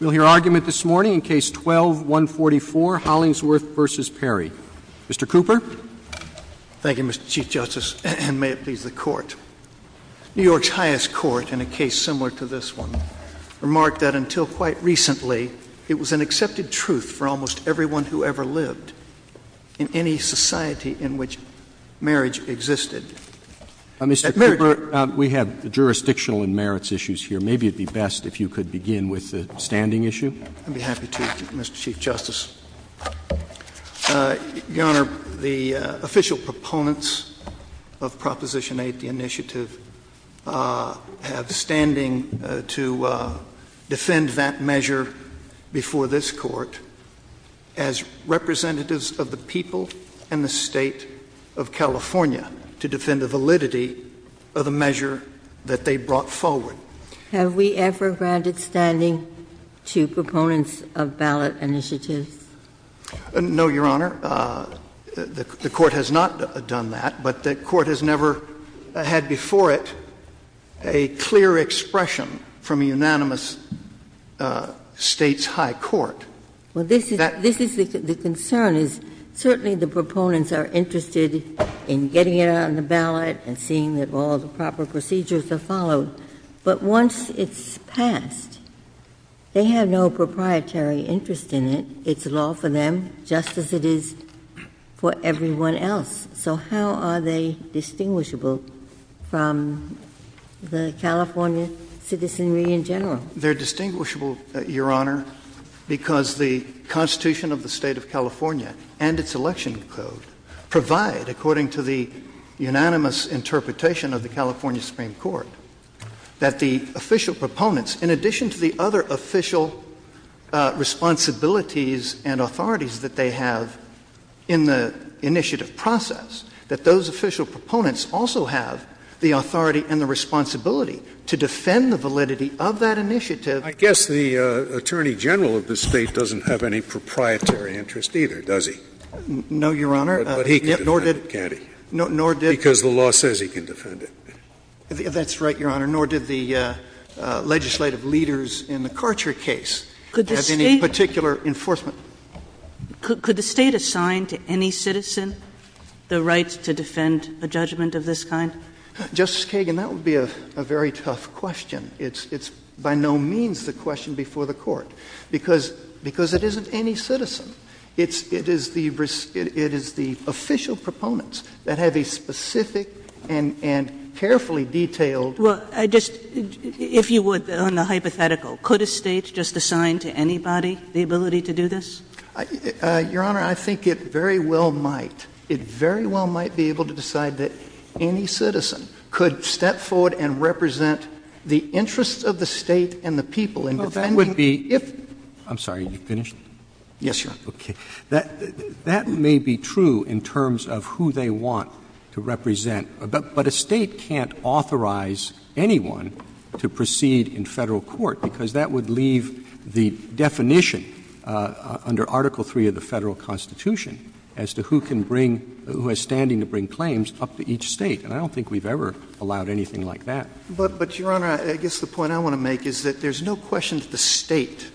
We'll hear argument this morning in case 12-144, Hollingsworth v. Perry. Mr. Cooper? Thank you, Mr. Chief Justice, and may it please the Court. New York's highest court, in a case similar to this one, remarked that until quite recently, it was an accepted truth for almost everyone who ever lived in any society in which marriage existed. Mr. Cooper, we have jurisdictional and merits issues here. Maybe it would be best if you could begin with the standing issue. I'd be happy to, Mr. Chief Justice. Your Honor, the official proponents of Proposition 8, the initiative, have standing to defend that measure before this Court as representatives of the people and the State of California to defend the validity of the measure that they brought forward. Have we ever granted standing to proponents of ballot initiatives? No, Your Honor. The Court has not done that, but the Court has never had before it a clear expression from a unanimous State's high court. Well, this is the concern, is certainly the proponents are interested in getting it on the ballot and seeing that all the proper procedures are followed. But once it's passed, they have no proprietary interest in it. It's law for them, just as it is for everyone else. So how are they distinguishable from the California citizenry in general? They're distinguishable, Your Honor, because the Constitution of the State of California and its election code provide, according to the unanimous interpretation of the California Supreme Court, that the official proponents, in addition to the other official responsibilities and authorities that they have in the initiative process, that those official proponents also have the authority and the responsibility to defend the validity of that initiative. I guess the Attorney General of the State doesn't have any proprietary interest either, does he? No, Your Honor. But he can defend it, can't he? Because the law says he can defend it. That's right, Your Honor. Nor did the legislative leaders in the Carcher case have any particular enforcement. Could the State assign to any citizen the rights to defend a judgment of this kind? Justice Kagan, that would be a very tough question. It's by no means the question before the Court, because it isn't any citizen. It is the official proponents that have a specific and carefully detailed— Well, I just—if you would, on the hypothetical, could a state just assign to anybody the ability to do this? Your Honor, I think it very well might. It very well might be able to decide that any citizen could step forward and represent the interests of the state and the people. I'm sorry. Are you finished? Yes, Your Honor. Okay. That may be true in terms of who they want to represent, but a state can't authorize anyone to proceed in Federal court, because that would leave the definition under Article III of the Federal Constitution as to who can bring — who has standing to bring claims up to each state. And I don't think we've ever allowed anything like that. But, Your Honor, I guess the point I want to make is that there's no question that the state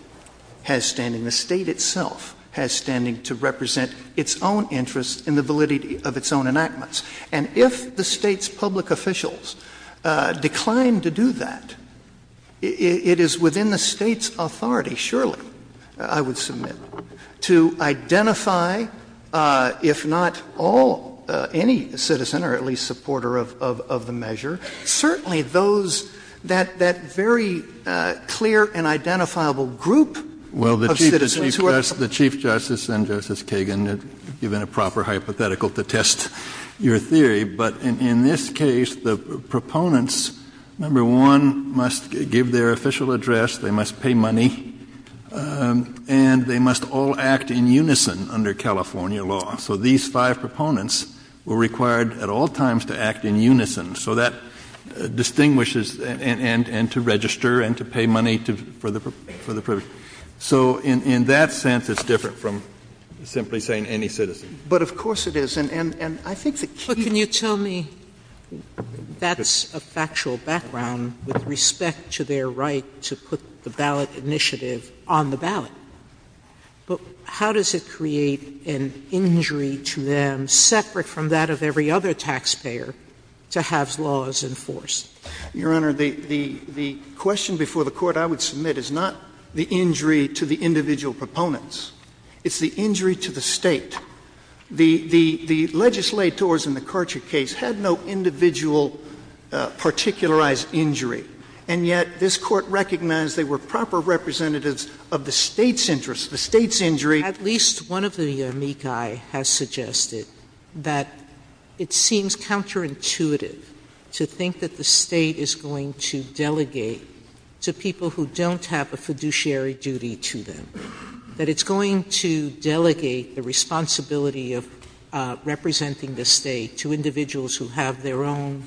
has standing. The state itself has standing to represent its own interests in the validity of its own enactments. And if the state's public officials decline to do that, it is within the state's authority, surely, I would submit, to identify, if not all, any citizen or at least supporter of the measure, certainly those — that very clear and identifiable group of citizens. Well, the Chief Justice and Justice Kagan have given a proper hypothetical to test your theory. But in this case, the proponents, number one, must give their official address. They must pay money. And they must all act in unison under California law. So these five proponents were required at all times to act in unison. So that distinguishes — and to register and to pay money for the purpose. So in that sense, it's different from simply saying any citizen. But, of course, it is. But can you tell me — that's a factual background with respect to their right to put the ballot initiative on the ballot. But how does it create an injury to them, separate from that of every other taxpayer, to have laws enforced? Your Honor, the question before the Court I would submit is not the injury to the individual proponents. It's the injury to the state. The legislators in the Karcher case had no individual particularized injury. And yet this Court recognized they were proper representatives of the state's interests, the state's injury. At least one of the amici has suggested that it seems counterintuitive to think that the state is going to delegate to people who don't have a fiduciary duty to them. That it's going to delegate the responsibility of representing the state to individuals who have their own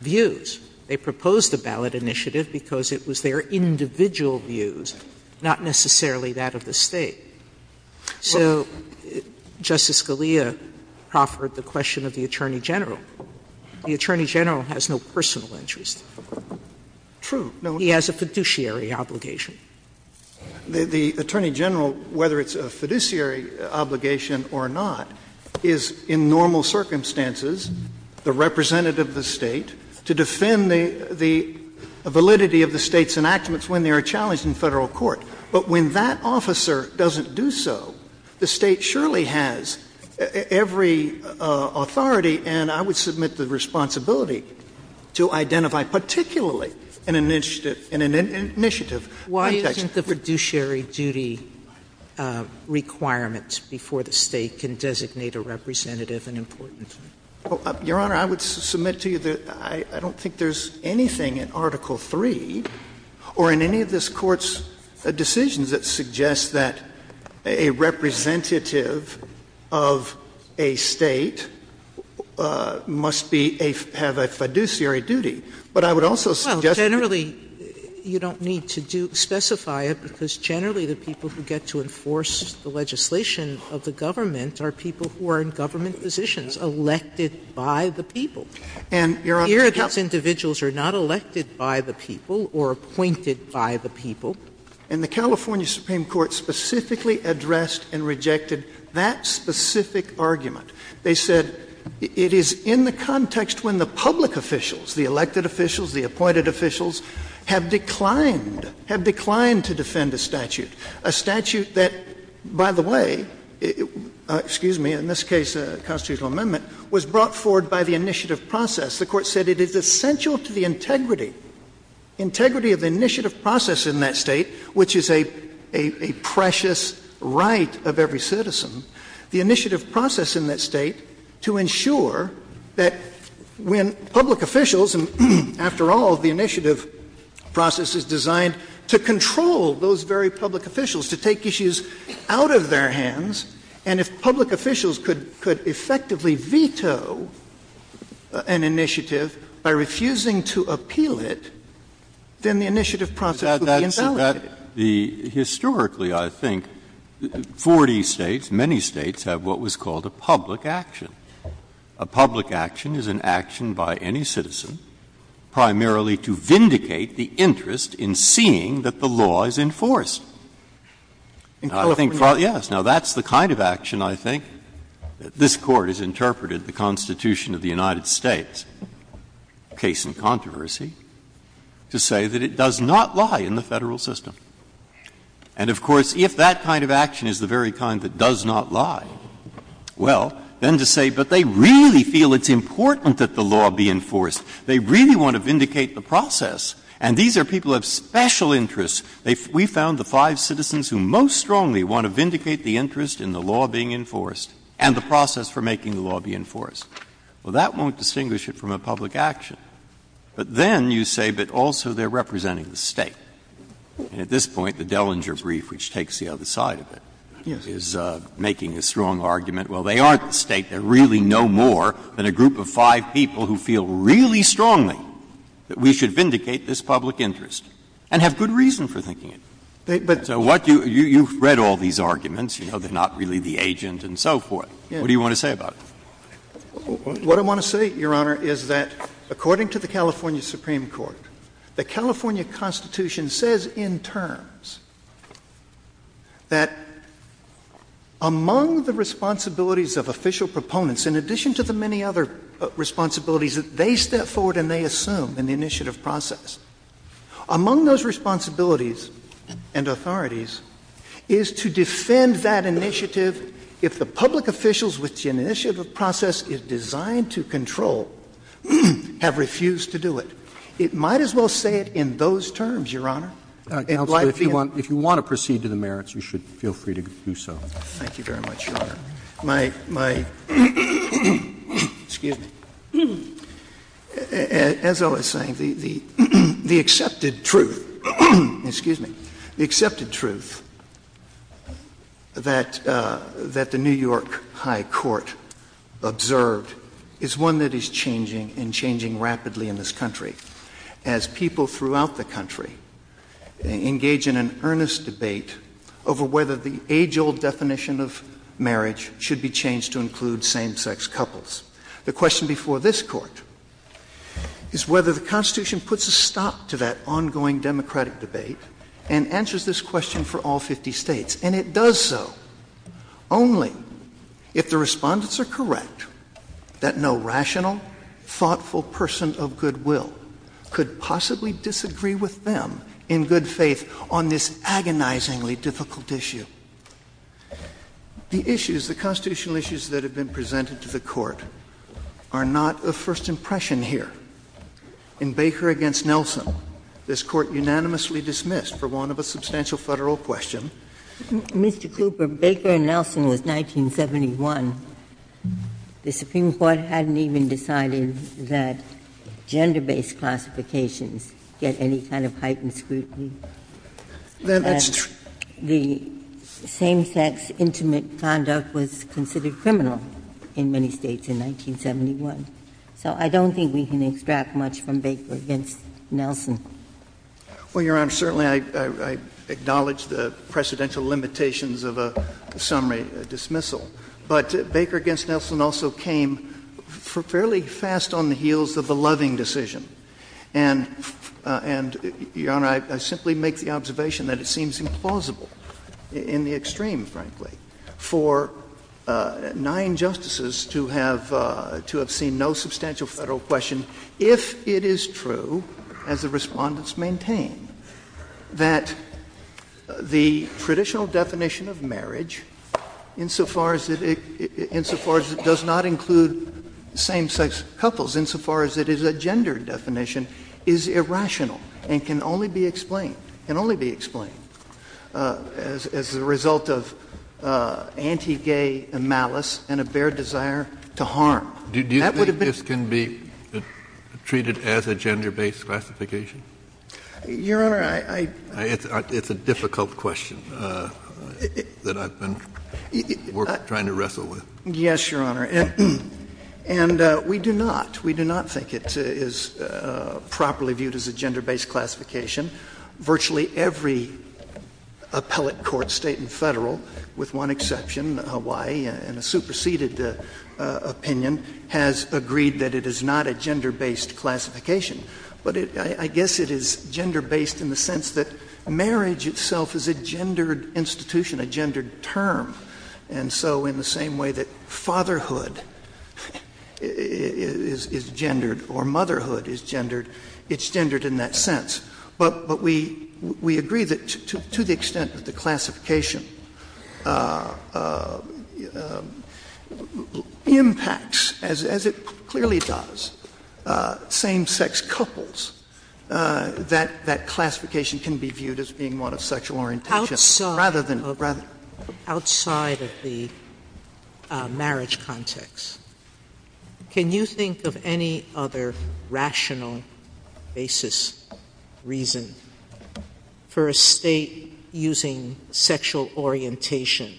views. They proposed the ballot initiative because it was their individual views, not necessarily that of the state. So Justice Scalia proffered the question of the Attorney General. The Attorney General has no personal interest. True. He has a fiduciary obligation. The Attorney General, whether it's a fiduciary obligation or not, is in normal circumstances the representative of the state to defend the validity of the state's enactments when they are challenged in federal court. But when that officer doesn't do so, the state surely has every authority and I would submit the responsibility to identify particularly an initiative. Why isn't the fiduciary duty requirement before the state can designate a representative an important one? Your Honor, I would submit to you that I don't think there's anything in Article III or in any of this Court's decisions that suggests that a representative of a state must have a fiduciary duty. But I would also suggest... Well, generally you don't need to specify it because generally the people who get to enforce the legislation of the government are people who are in government positions, elected by the people. And here those individuals are not elected by the people or appointed by the people. And the California Supreme Court specifically addressed and rejected that specific argument. They said it is in the context when the public officials, the elected officials, the appointed officials, have declined, have declined to defend a statute. A statute that, by the way, excuse me, in this case a constitutional amendment, was brought forward by the initiative process. The Court said it is essential to the integrity, integrity of the initiative process in that state, which is a precious right of every citizen, the initiative process in that state to ensure that when public officials, and after all the initiative process is designed to control those very public officials, to take issues out of their hands, and if public officials could effectively veto an initiative by refusing to appeal it, then the initiative process would be invalid. Historically, I think, 40 states, many states, have what was called a public action. A public action is an action by any citizen primarily to vindicate the interest in seeing that the law is enforced. Yes, now that's the kind of action I think this Court has interpreted in the Constitution of the United States, case in controversy, to say that it does not lie in the federal system. And, of course, if that kind of action is the very kind that does not lie, well, then to say, but they really feel it's important that the law be enforced. They really want to vindicate the process. And these are people of special interest. We found the five citizens who most strongly want to vindicate the interest in the law being enforced and the process for making the law be enforced. Well, that won't distinguish it from a public action. But then you say, but also they're representing the state. At this point, the Dellinger brief, which takes the other side of it, is making a strong argument. Well, they aren't the state. They're really no more than a group of five people who feel really strongly that we should vindicate this public interest and have good reason for thinking it. So you've read all these arguments, you know, they're not really the agents and so forth. What do you want to say about it? What I want to say, Your Honor, is that according to the California Supreme Court, the California Constitution says in terms that among the responsibilities of official proponents, in addition to the many other responsibilities that they step forward and they assume in the initiative process, among those responsibilities and authorities is to defend that initiative if the public officials which the initiative process is designed to control have refused to do it. It might as well say it in those terms, Your Honor. Counsel, if you want to proceed to the merits, you should feel free to do so. Thank you very much, Your Honor. My, excuse me, as I was saying, the accepted truth, excuse me, the accepted truth that the New York High Court observed is one that is changing and changing rapidly in this country as people throughout the country engage in an earnest debate over whether the age-old definition of marriage should be changed to include same-sex couples. The question before this Court is whether the Constitution puts a stop to that ongoing democratic debate and answers this question for all 50 states. And it does so only if the respondents are correct that no rational, thoughtful person of good will could possibly disagree with them in good faith on this agonizingly difficult issue. The issues, the constitutional issues that have been presented to the Court are not of first impression here. In Baker v. Nelson, this Court unanimously dismissed for want of a substantial federal question. Mr. Cooper, Baker v. Nelson was 1971. The Supreme Court hadn't even decided that gender-based classifications get any kind of heightened scrutiny. The same-sex intimate conduct was considered criminal in many states in 1971. So I don't think we can extract much from Baker v. Nelson. Well, Your Honor, certainly I acknowledge the precedental limitations of a summary dismissal. But Baker v. Nelson also came fairly fast on the heels of a loving decision. And, Your Honor, I simply make the observation that it seems implausible, in the extreme, frankly, for nine justices to have seen no substantial federal question if it is true, as the respondents maintain, that the traditional definition of marriage, insofar as it does not include same-sex couples, insofar as it is a gendered definition, is irrational and can only be explained, can only be explained as a result of anti-gay malice and a bare desire to harm. Do you think this can be treated as a gender-based classification? Your Honor, I — It's a difficult question that I've been trying to wrestle with. Yes, Your Honor. And we do not. We do not think it is properly viewed as a gender-based classification. Virtually every appellate court, state and federal, with one exception, Hawaii, in a superseded opinion, has agreed that it is not a gender-based classification. But I guess it is gender-based in the sense that marriage itself is a gendered institution, a gendered term. And so in the same way that fatherhood is gendered or motherhood is gendered, it's gendered in that sense. But we agree that to the extent that the classification impacts, as it clearly does, same-sex couples, that that classification can be viewed as being one of sexual orientation. Outside of the marriage context, Can you think of any other rational basis, reason, for a state using sexual orientation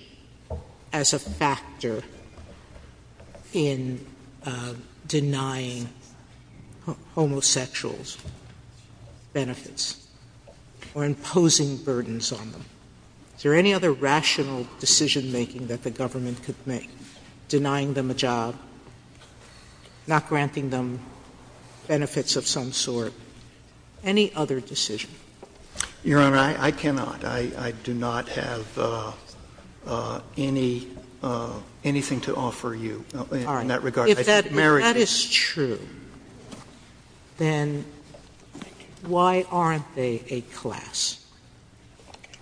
as a factor in denying homosexuals benefits or imposing burdens on them? Is there any other rational decision-making that the government could make denying them a job, not granting them benefits of some sort, any other decision? Your Honor, I cannot. I do not have anything to offer you in that regard. If that is true, then why aren't they a class?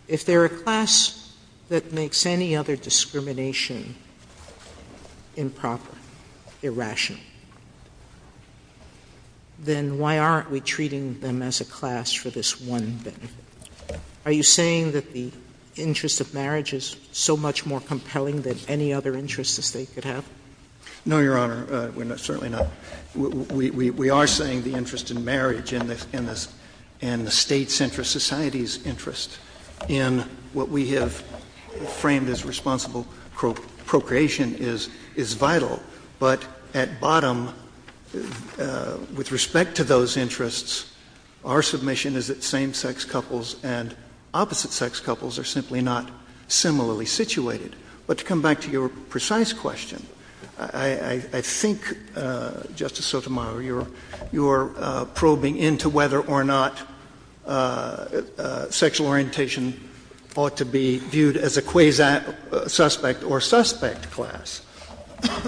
If they're a class that makes any other discrimination improper, irrational, then why aren't we treating them as a class for this one thing? Are you saying that the interest of marriage is so much more compelling than any other interests the state could have? No, Your Honor, certainly not. We are saying the interest in marriage and the state-centered society's interest in what we have framed as responsible procreation is vital. But at bottom, with respect to those interests, our submission is that same-sex couples and opposite-sex couples are simply not similarly situated. But to come back to your precise question, I think, Justice Sotomayor, you're probing into whether or not sexual orientation ought to be viewed as a quasi-suspect or suspect class.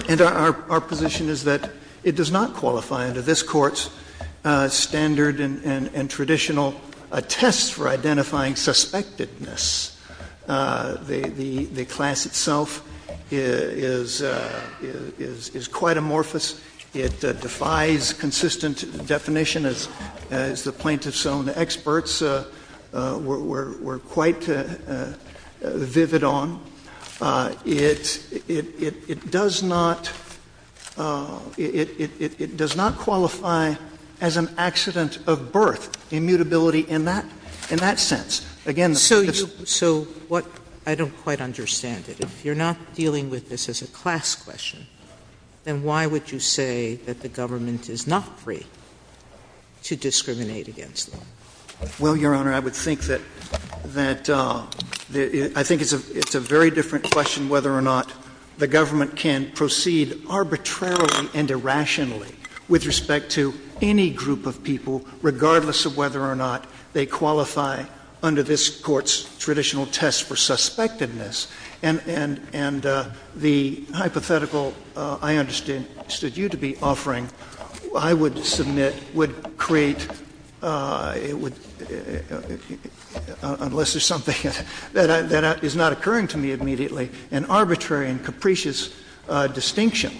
And our position is that it does not qualify under this Court's standard and traditional test for identifying suspectedness. The class itself is quite amorphous. It defies consistent definition, as the plaintiffs' own experts were quite vivid on. It does not qualify as an accident of birth, immutability in that sense. So I don't quite understand it. If you're not dealing with this as a class question, then why would you say that the government is not free to discriminate against women? Well, Your Honor, I think it's a very different question whether or not the government can proceed arbitrarily and irrationally with respect to any group of people, regardless of whether or not they qualify under this Court's traditional test for suspectiveness. And the hypothetical I understood you to be offering, I would submit, would create, unless there's something that is not occurring to me immediately, an arbitrary and capricious distinction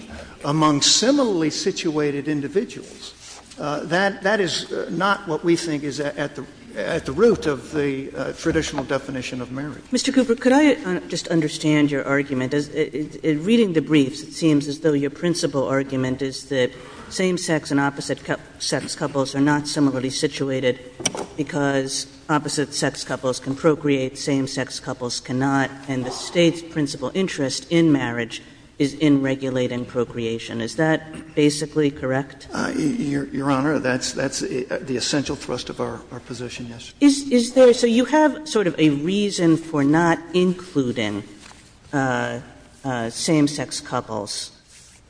among similarly situated individuals. That is not what we think is at the root of the traditional definition of marriage. Mr. Cooper, could I just understand your argument? In reading the briefs, it seems as though your principal argument is that same-sex and opposite-sex couples are not similarly situated because opposite-sex couples can procreate, same-sex couples cannot. And the State's principal interest in marriage is in regulating procreation. Is that basically correct? Your Honor, that's the essential thrust of our position, yes. So you have sort of a reason for not including same-sex couples.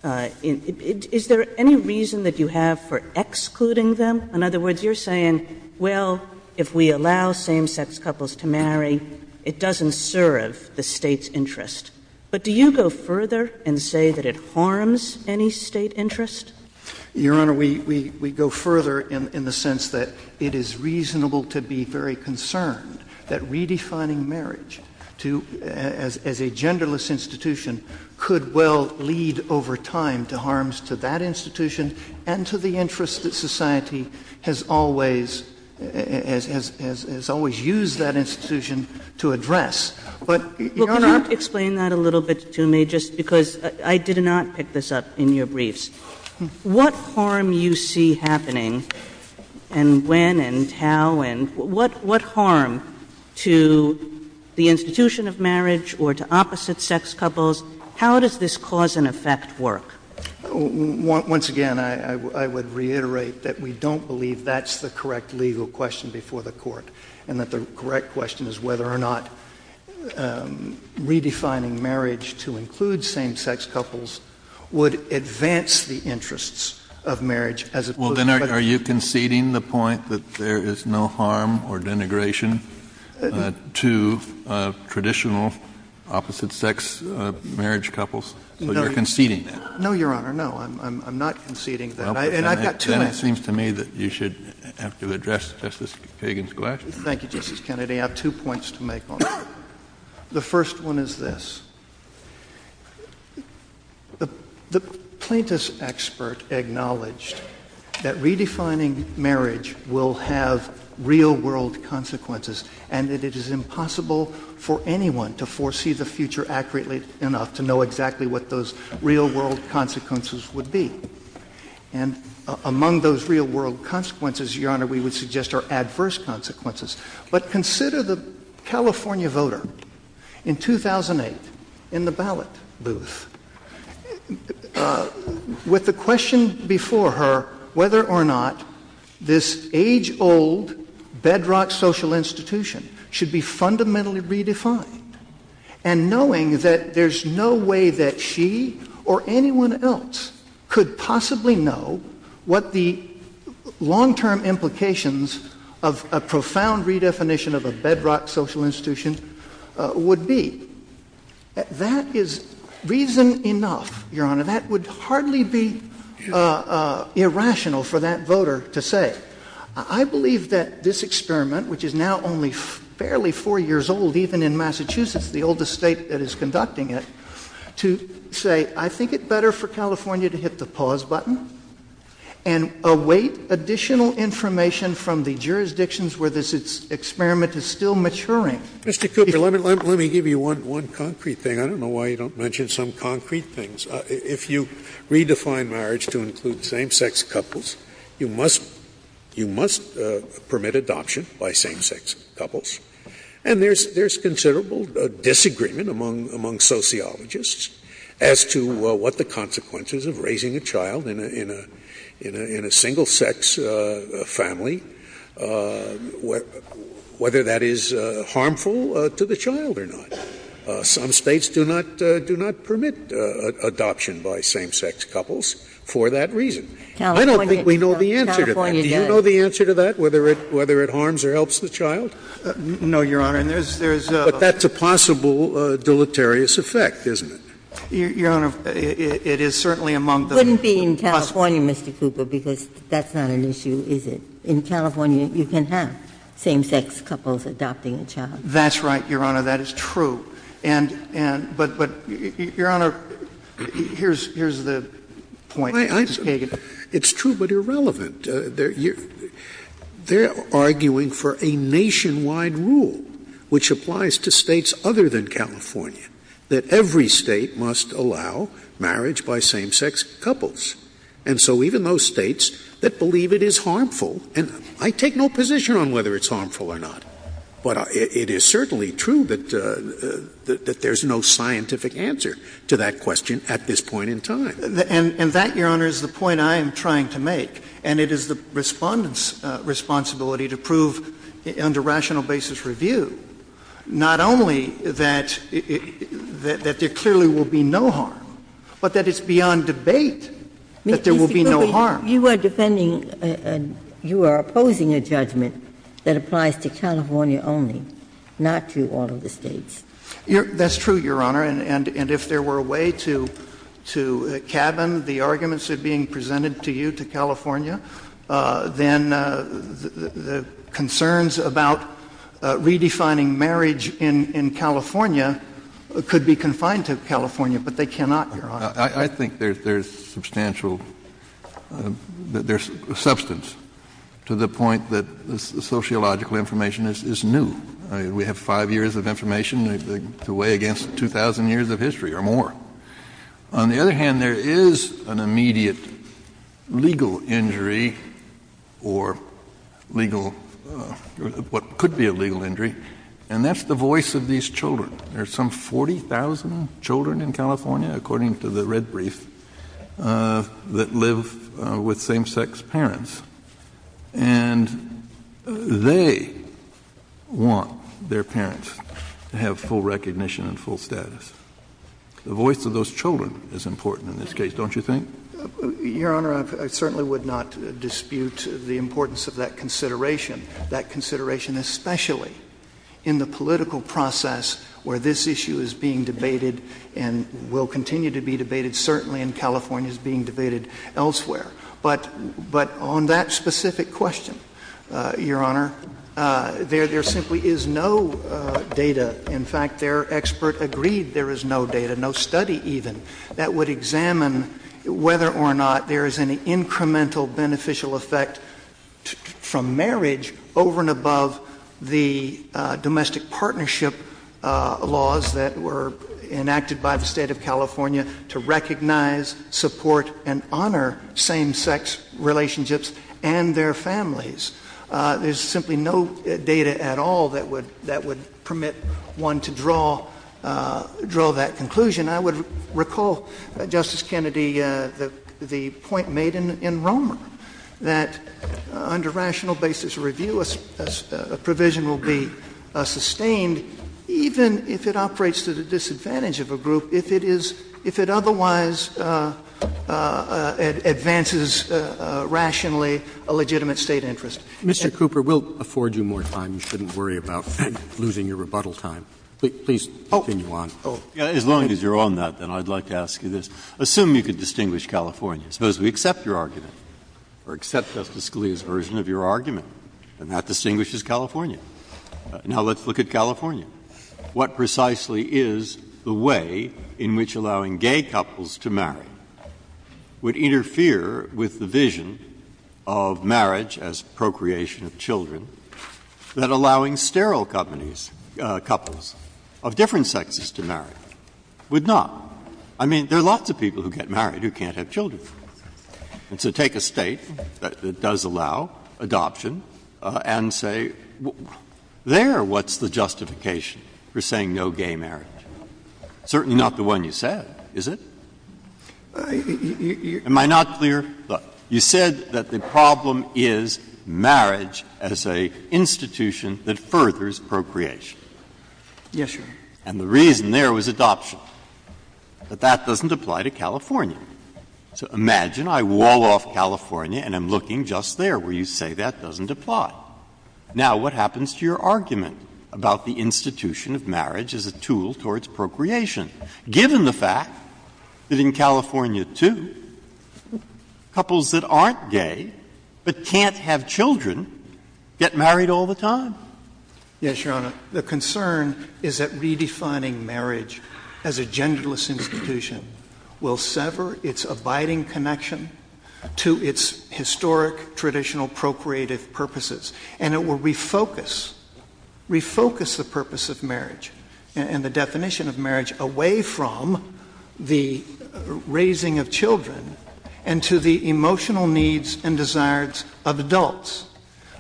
Is there any reason that you have for excluding them? In other words, you're saying, well, if we allow same-sex couples to marry, it doesn't serve the State's interest. But do you go further and say that it harms any State interest? Your Honor, we go further in the sense that it is reasonable to be very concerned that redefining marriage as a genderless institution could well lead over time to harms to that institution and to the interest that society has always used that institution to address. Your Honor, explain that a little bit to me, just because I did not pick this up in your briefs. What harm you see happening and when and how and what harm to the institution of marriage or to opposite-sex couples? How does this cause and effect work? Once again, I would reiterate that we don't believe that's the correct legal question before the Court and that the correct question is whether or not redefining marriage to include same-sex couples would advance the interests of marriage as it were. Well, then are you conceding the point that there is no harm or denigration to traditional opposite-sex marriage couples? So you're conceding that? No, Your Honor. No, I'm not conceding that. Then it seems to me that you should have to address Justice Kagan's question. Thank you, Justice Kennedy. I have two points to make on that. The first one is this. The plaintiff's expert acknowledged that redefining marriage will have real-world consequences and that it is impossible for anyone to foresee the future accurately enough to know exactly what those real-world consequences would be. And among those real-world consequences, Your Honor, we would suggest are adverse consequences. But consider the California voter in 2008 in the ballot booth with the question before her whether or not this age-old bedrock social institution should be fundamentally redefined and knowing that there's no way that she or anyone else could possibly know what the long-term implications of a profound redefinition of a bedrock social institution would be. That is reason enough, Your Honor. That would hardly be irrational for that voter to say. I believe that this experiment, which is now only fairly four years old, even in Massachusetts, the oldest state that is conducting it, to say, I think it's better for California to hit the pause button and await additional information from the jurisdictions where this experiment is still maturing. Mr. Cooper, let me give you one concrete thing. I don't know why you don't mention some concrete things. If you redefine marriage to include same-sex couples, you must permit adoption by same-sex couples. And there's considerable disagreement among sociologists as to what the consequences of raising a child in a single-sex family, whether that is harmful to the child or not. Some states do not permit adoption by same-sex couples for that reason. I don't think we know the answer to that. Do you know the answer to that, whether it harms or helps the child? No, Your Honor. But that's a possible deleterious effect, isn't it? Your Honor, it is certainly among the— It wouldn't be in California, Mr. Cooper, because that's not an issue, is it? In California, you can have same-sex couples adopting a child. That's right, Your Honor. That is true. But, Your Honor, here's the point. It's true but irrelevant. They're arguing for a nationwide rule, which applies to states other than California, that every state must allow marriage by same-sex couples. And so even those states that believe it is harmful—and I take no position on whether it's harmful or not, but it is certainly true that there's no scientific answer to that question at this point in time. And that, Your Honor, is the point I am trying to make. And it is the Respondent's responsibility to prove under rational basis reviewed not only that there clearly will be no harm, but that it's beyond debate that there will be no harm. You are opposing a judgment that applies to California only, not to all of the states. That's true, Your Honor. And if there were a way to cabin the arguments that are being presented to you to California, then the concerns about redefining marriage in California could be confined to California, but they cannot, Your Honor. I think there's substantial—there's substance to the point that sociological information is new. We have five years of information to weigh against 2,000 years of history or more. On the other hand, there is an immediate legal injury or legal—what could be a legal injury, and that's the voice of these children. There are some 40,000 children in California, according to the Red Brief, that live with same-sex parents. And they want their parents to have full recognition and full status. The voice of those children is important in this case, don't you think? Your Honor, I certainly would not dispute the importance of that consideration, that consideration especially in the political process where this issue is being debated and will continue to be debated. Certainly in California, it's being debated elsewhere. But on that specific question, Your Honor, there simply is no data. In fact, their expert agreed there is no data, no study even, that would examine whether or not there is any incremental beneficial effect from marriage over and above the domestic partnership laws that were enacted by the State of California to recognize, support, and honor same-sex marriage. Same-sex relationships and their families. There's simply no data at all that would permit one to draw that conclusion. I would recall, Justice Kennedy, the point made in Romer, that under rational basis review, a provision will be sustained even if it operates to the disadvantage of a group if it otherwise advances rationally a legitimate state interest. Mr. Cooper, we'll afford you more time. You shouldn't worry about losing your rebuttal time. Please continue on. As long as you're on that, then, I'd like to ask you this. Assume you could distinguish California. Suppose we accept your argument or accept the Scalia's version of your argument, and that distinguishes California. Now, let's look at California. What precisely is the way in which allowing gay couples to marry would interfere with the vision of marriage as procreation of children that allowing sterile couples of different sexes to marry would not? I mean, there are lots of people who get married who can't have children. And so take a state that does allow adoption and say, there, what's the justification for saying no gay marriage? Certainly not the one you said, is it? Am I not clear? You said that the problem is marriage as an institution that furthers procreation. Yes, Your Honor. And the reason there was adoption. But that doesn't apply to California. So imagine I wall off California and I'm looking just there where you say that doesn't apply. Now, what happens to your argument about the institution of marriage as a tool towards procreation, given the fact that in California, too, couples that aren't gay but can't have children get married all the time? Yes, Your Honor. The concern is that redefining marriage as a genderless institution will sever its abiding connection to its historic, traditional procreative purposes. And it will refocus the purpose of marriage and the definition of marriage away from the raising of children and to the emotional needs and desires of adults,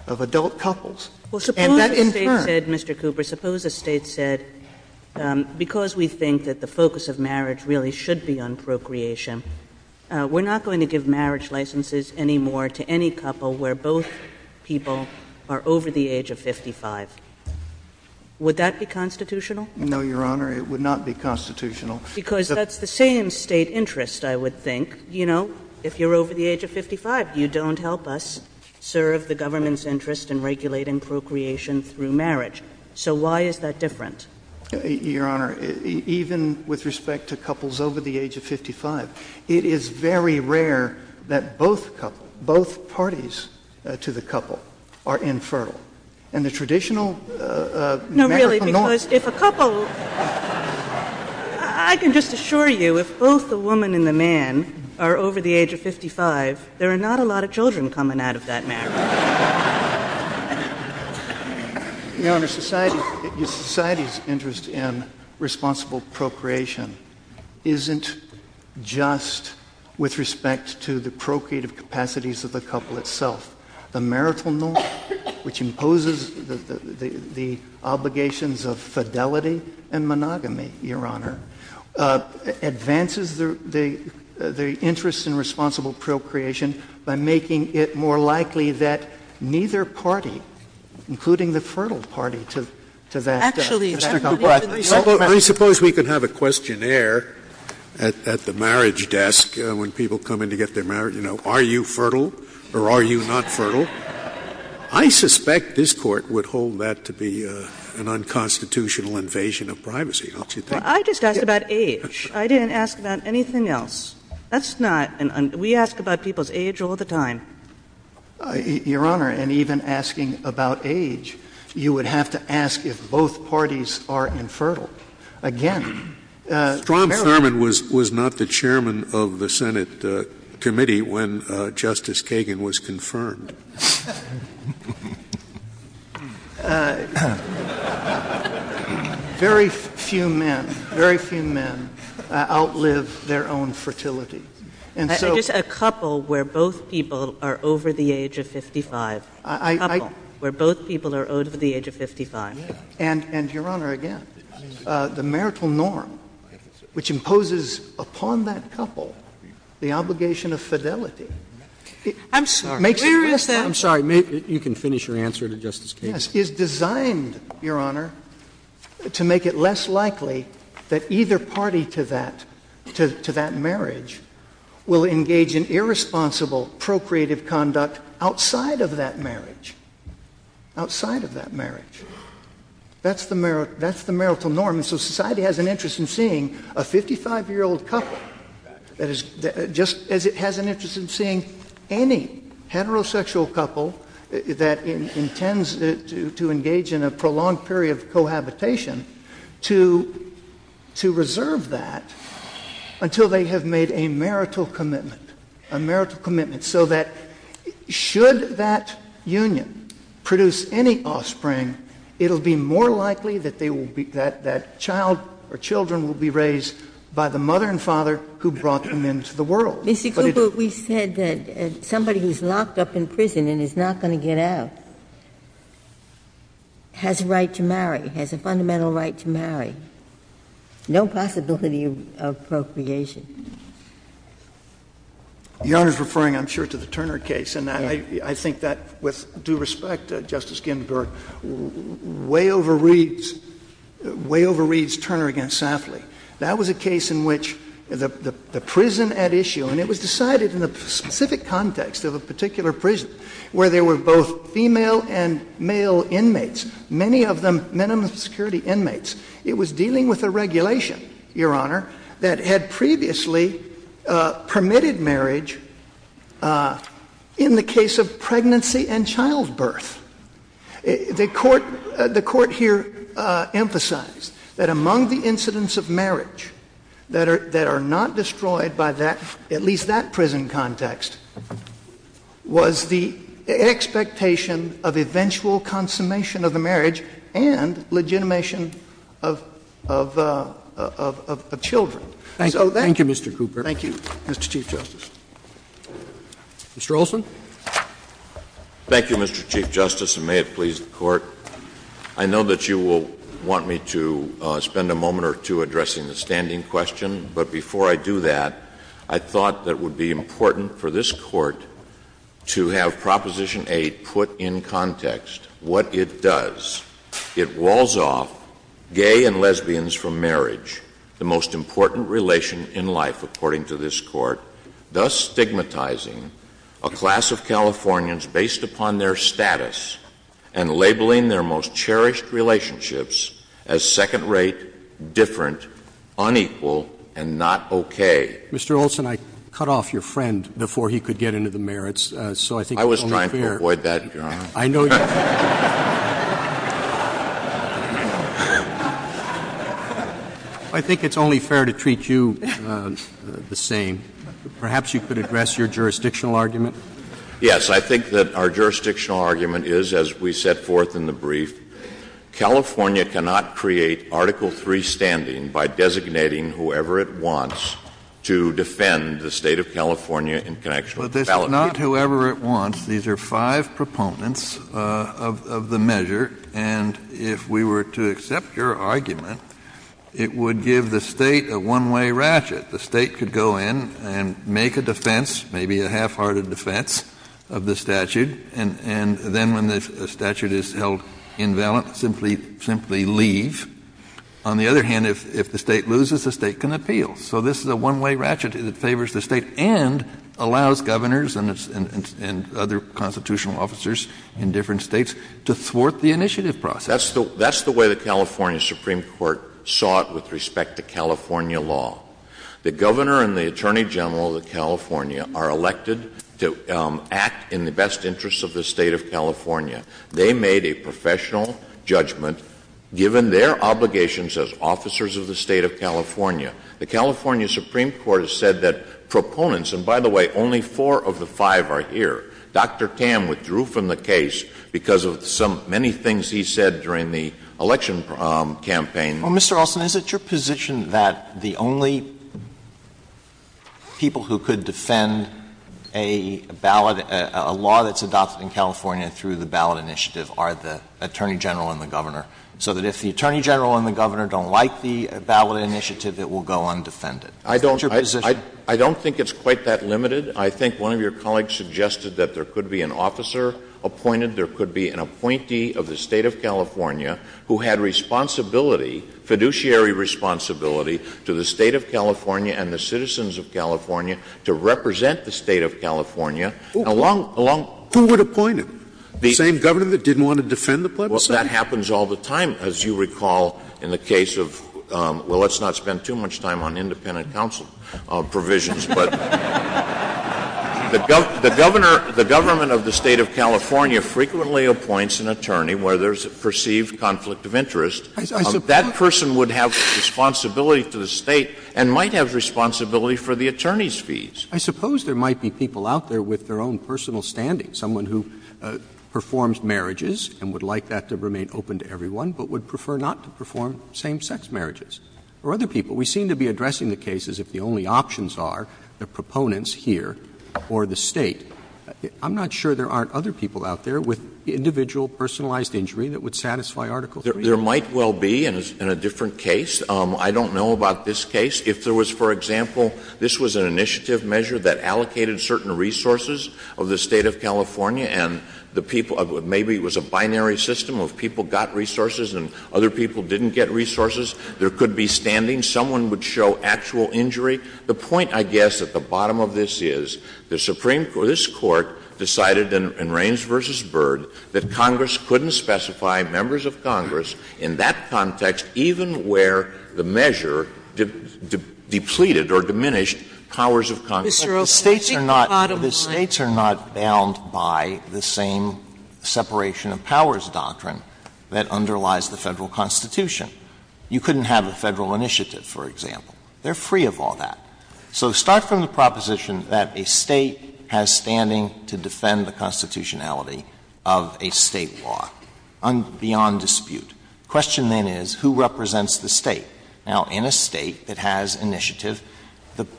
of adult couples. Suppose a state said, Mr. Cooper, suppose a state said, because we think that the focus of marriage really should be on procreation, we're not going to give marriage licenses anymore to any couple where both people are over the age of 55. Would that be constitutional? No, Your Honor. It would not be constitutional. Because that's the same state interest, I would think. You know, if you're over the age of 55, you don't help us serve the government's interest in regulating procreation through marriage. So why is that different? Your Honor, even with respect to couples over the age of 55, it is very rare that both parties to the couple are infertile. No, really, because if a couple, I can just assure you, if both the woman and the man are over the age of 55, there are not a lot of children coming out of that marriage. Your Honor, society's interest in responsible procreation isn't just with respect to the procreative capacities of the couple itself. The marital norm, which imposes the obligations of fidelity and monogamy, Your Honor, advances the interest in responsible procreation by making it more likely that neither party, including the fertile party, to that death. I suppose we could have a questionnaire at the marriage desk when people come in to get their marriage. You know, are you fertile or are you not fertile? I suspect this Court would hold that to be an unconstitutional invasion of privacy. I just asked about age. I didn't ask about anything else. We ask about people's age all the time. Your Honor, and even asking about age, you would have to ask if both parties are infertile. Strom Thurmond was not the chairman of the Senate committee when Justice Kagan was confirmed. Very few men outlive their own fertility. A couple where both people are over the age of 55. A couple where both people are over the age of 55. And, Your Honor, again, the marital norm, which imposes upon that couple the obligation of fidelity, is designed, Your Honor, to make it less likely that either party to that marriage, will engage in irresponsible, procreative conduct outside of that marriage. Outside of that marriage. That's the marital norm, and so society has an interest in seeing a 55-year-old couple, just as it has an interest in seeing any heterosexual couple that intends to engage in a prolonged period of cohabitation, to reserve that until they have made a marital commitment. A marital commitment, so that should that union produce any offspring, it will be more likely that that child or children will be raised by the mother and father who brought them into the world. It's because we said that somebody who's locked up in prison and is not going to get out has a right to marry, has a fundamental right to marry. No possibility of procreation. Your Honor is referring, I'm sure, to the Turner case, and I think that, with due respect, Justice Ginsburg, way overreads Turner against Safley. That was a case in which the prison at issue, and it was decided in the specific context of a particular prison, where there were both female and male inmates, many of them minimum security inmates. It was dealing with a regulation, Your Honor, that had previously permitted marriage in the case of pregnancy and childbirth. The court here emphasized that among the incidents of marriage that are not destroyed by that, at least that prison context, was the expectation of eventual consummation of the marriage and legitimation of children. Thank you, Mr. Cooper. Thank you, Mr. Chief Justice. Mr. Olson. Thank you, Mr. Chief Justice, and may it please the Court. I know that you will want me to spend a moment or two addressing the standing question, but before I do that, I thought that it would be important for this Court to have Proposition 8 put in context what it does. It walls off gay and lesbians from marriage, the most important relation in life, according to this Court, thus stigmatizing a class of Californians based upon their status and labeling their most cherished relationships as second-rate, different, unequal, and not okay. Mr. Olson, I cut off your friend before he could get into the merits. I was trying to avoid that, Your Honor. I think it's only fair to treat you the same. Perhaps you could address your jurisdictional argument. Yes, I think that our jurisdictional argument is, as we set forth in the brief, California cannot create Article III standing by designating whoever it wants to defend the State of California in connection with the Fallot Act. This is not whoever it wants. These are five proponents of the measure, and if we were to accept your argument, it would give the State a one-way ratchet. The State could go in and make a defense, maybe a half-hearted defense of the statute, and then when the statute is held invalid, simply leave. On the other hand, if the State loses, the State can appeal. So this is a one-way ratchet that favors the State and allows governors and other constitutional officers in different states to thwart the initiative process. That's the way the California Supreme Court saw it with respect to California law. The governor and the attorney general of California are elected to act in the best interest of the State of California. They made a professional judgment, given their obligations as officers of the State of California. The California Supreme Court has said that proponents — and by the way, only four of the five are here. Dr. Cam withdrew from the case because of some — many things he said during the election campaign. Well, Mr. Olson, is it your position that the only people who could defend a ballot, a law that's adopted in California through the ballot initiative, are the attorney general and the governor? So that if the attorney general and the governor don't like the ballot initiative, it will go undefended? I don't think it's quite that limited. I think one of your colleagues suggested that there could be an officer appointed, there could be an appointee of the State of California who had responsibility, fiduciary responsibility, to the State of California and the citizens of California to represent the State of California. Who would appoint him? The same governor that didn't want to defend the policy? Well, that happens all the time, as you recall, in the case of — well, let's not spend too much time on independent counsel provisions. But the governor — the government of the State of California frequently appoints an attorney where there's a perceived conflict of interest. That person would have responsibility to the State and might have responsibility for the attorney's fees. I suppose there might be people out there with their own personal standing, someone who performs marriages and would like that to remain open to everyone but would prefer not to perform same-sex marriages, or other people. We seem to be addressing the case as if the only options are the proponents here or the State. I'm not sure there aren't other people out there with individual personalized injury that would satisfy Article 3. There might well be in a different case. I don't know about this case. If there was, for example — this was an initiative measure that allocated certain resources of the State of California and the people — maybe it was a binary system of people got resources and other people didn't get resources. There could be standing. Someone would show actual injury. The point, I guess, at the bottom of this is the Supreme — this Court decided in Raines v. Byrd that Congress couldn't specify members of Congress in that context, even where the measure depleted or diminished powers of Congress. The States are not bound by the same separation of powers doctrine that underlies the federal Constitution. You couldn't have a federal initiative, for example. They're free of all that. So start from the proposition that a State has standing to defend the constitutionality of a State law beyond dispute. The question then is who represents the State? Now, in a State that has initiative,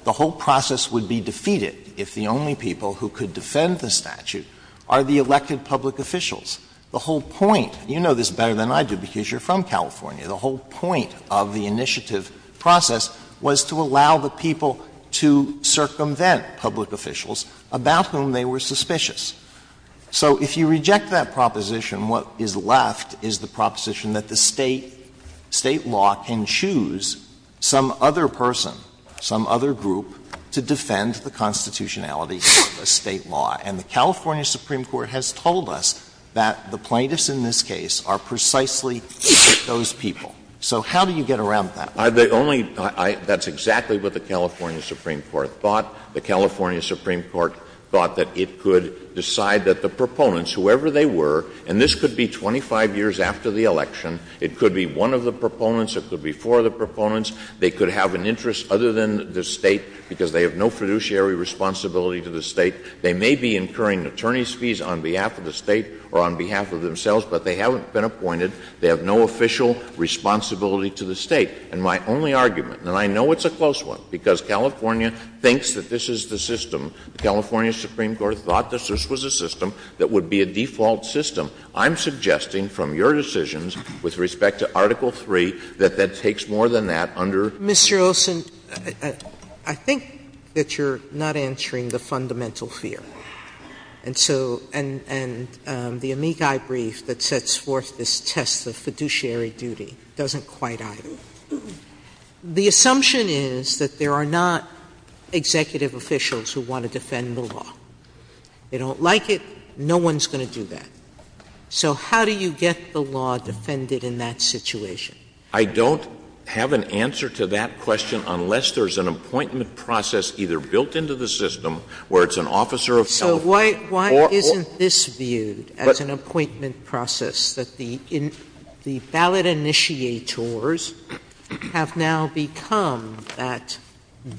the whole process would be defeated if the only people who could defend the statute are the elected public officials. The whole point — you know this better than I do because you're from California — the whole point of the initiative process was to allow the people to circumvent public officials about whom they were suspicious. So if you reject that proposition, what is left is the proposition that the State law can choose some other person, some other group, to defend the constitutionality of a State law. And the California Supreme Court has told us that the plaintiffs in this case are precisely those people. So how do you get around that? That's exactly what the California Supreme Court thought. The California Supreme Court thought that it could decide that the proponents, whoever they were — and this could be 25 years after the election. It could be one of the proponents. It could be four of the proponents. They could have an interest other than the State because they have no fiduciary responsibility to the State. They may be incurring attorney's fees on behalf of the State or on behalf of themselves, but they haven't been appointed. They have no official responsibility to the State. And my only argument — and I know it's a close one because California thinks that this is the system. The California Supreme Court thought this was a system that would be a default system. I'm suggesting from your decisions with respect to Article III that that takes more than that under — Mr. Olson, I think that you're not answering the fundamental fear. And the amici brief that sets forth this test of fiduciary duty doesn't quite either. The assumption is that there are not executive officials who want to defend the law. They don't like it. No one's going to do that. So how do you get the law defended in that situation? I don't have an answer to that question unless there's an appointment process either built into the system where it's an officer of — So why isn't this viewed as an appointment process, that the valid initiators have now become that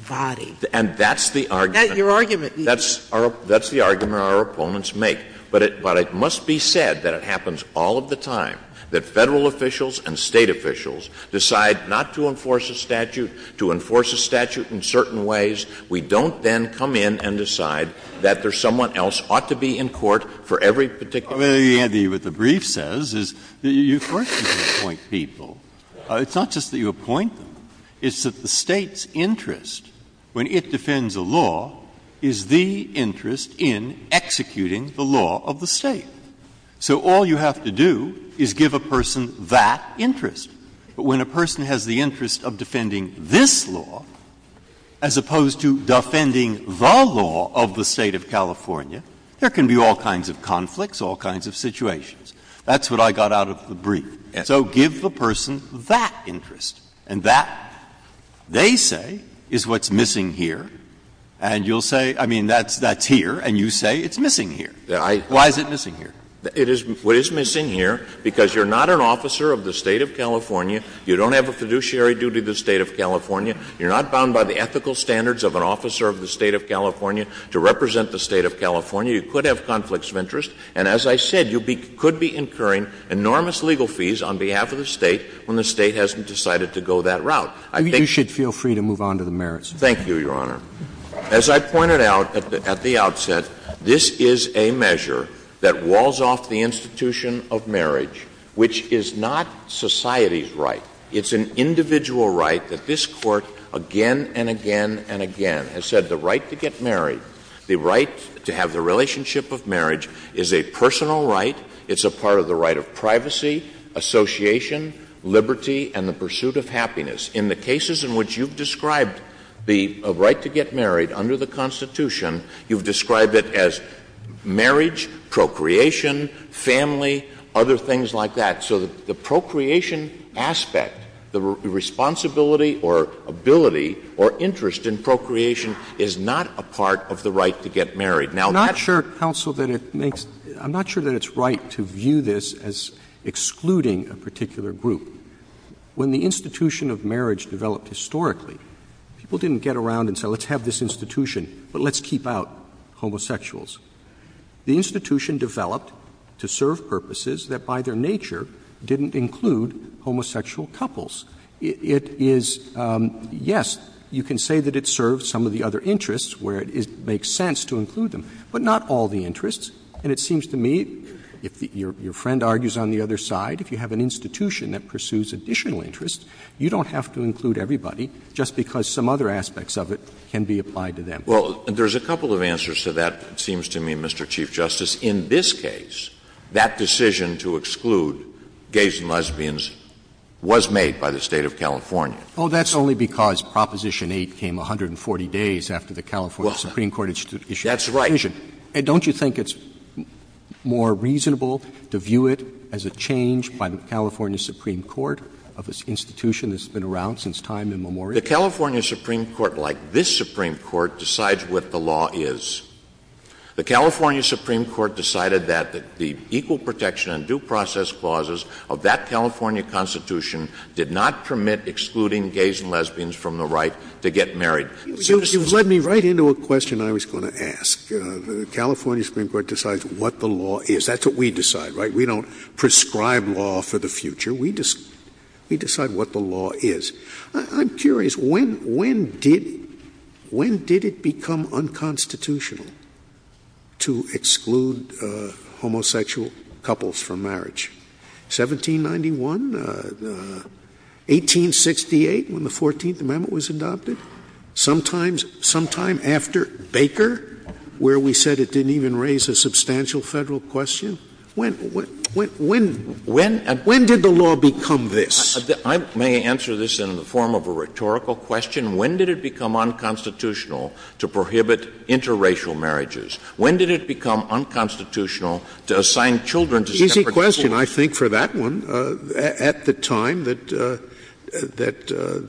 body? And that's the argument — That's your argument. That's the argument our opponents make. But it must be said that it happens all of the time that Federal officials and State officials decide not to enforce a statute, to enforce a statute in certain ways. We don't then come in and decide that there's someone else ought to be in court for every particular — Well, Andy, what the brief says is that you first need to appoint people. It's not just that you appoint them. It's that the State's interest, when it defends a law, is the interest in executing the law of the State. So all you have to do is give a person that interest. But when a person has the interest of defending this law as opposed to defending the law of the State of California, there can be all kinds of conflicts, all kinds of situations. That's what I got out of the brief. So give the person that interest. And that, they say, is what's missing here. And you'll say — I mean, that's here. And you say it's missing here. Why is it missing here? It is what is missing here because you're not an officer of the State of California. You don't have a fiduciary duty to the State of California. You're not bound by the ethical standards of an officer of the State of California to represent the State of California. You could have conflicts of interest. And as I said, you could be incurring enormous legal fees on behalf of the State when the State hasn't decided to go that route. You should feel free to move on to the merits. Thank you, Your Honor. As I pointed out at the outset, this is a measure that walls off the institution of marriage, which is not society's right. It's an individual right that this Court again and again and again has said the right to get married, the right to have the relationship of marriage is a personal right. It's a part of the right of privacy, association, liberty, and the pursuit of happiness. In the cases in which you've described the right to get married under the Constitution, you've described it as marriage, procreation, family, other things like that. So the procreation aspect, the responsibility or ability or interest in procreation is not a part of the right to get married. I'm not sure, counsel, that it makes — I'm not sure that it's right to view this as excluding a particular group. When the institution of marriage developed historically, people didn't get around and say, let's have this institution, but let's keep out homosexuals. The institution developed to serve purposes that by their nature didn't include homosexual couples. It is — yes, you can say that it serves some of the other interests where it makes sense to include them, but not all the interests. And it seems to me, if your friend argues on the other side, if you have an institution that pursues additional interests, you don't have to include everybody just because some other aspects of it can be applied to them. Well, there's a couple of answers to that, it seems to me, Mr. Chief Justice. In this case, that decision to exclude gays and lesbians was made by the state of California. Oh, that's only because Proposition 8 came 140 days after the California Supreme Court issued it. That's right. And don't you think it's more reasonable to view it as a change by the California Supreme Court of this institution that's been around since time immemorial? The California Supreme Court, like this Supreme Court, decides what the law is. The California Supreme Court decided that the equal protection and due process clauses of that California Constitution did not permit excluding gays and lesbians from the right to get married. It led me right into a question I was going to ask. The California Supreme Court decides what the law is. That's what we decide, right? We don't prescribe law for the future. We decide what the law is. I'm curious, when did it become unconstitutional to exclude homosexual couples from marriage? 1791? 1868, when the 14th Amendment was adopted? Sometime after Baker, where we said it didn't even raise a substantial federal question? When did the law become this? I may answer this in the form of a rhetorical question. When did it become unconstitutional to prohibit interracial marriages? When did it become unconstitutional to assign children to separate marriages? Easy question. I think for that one, at the time that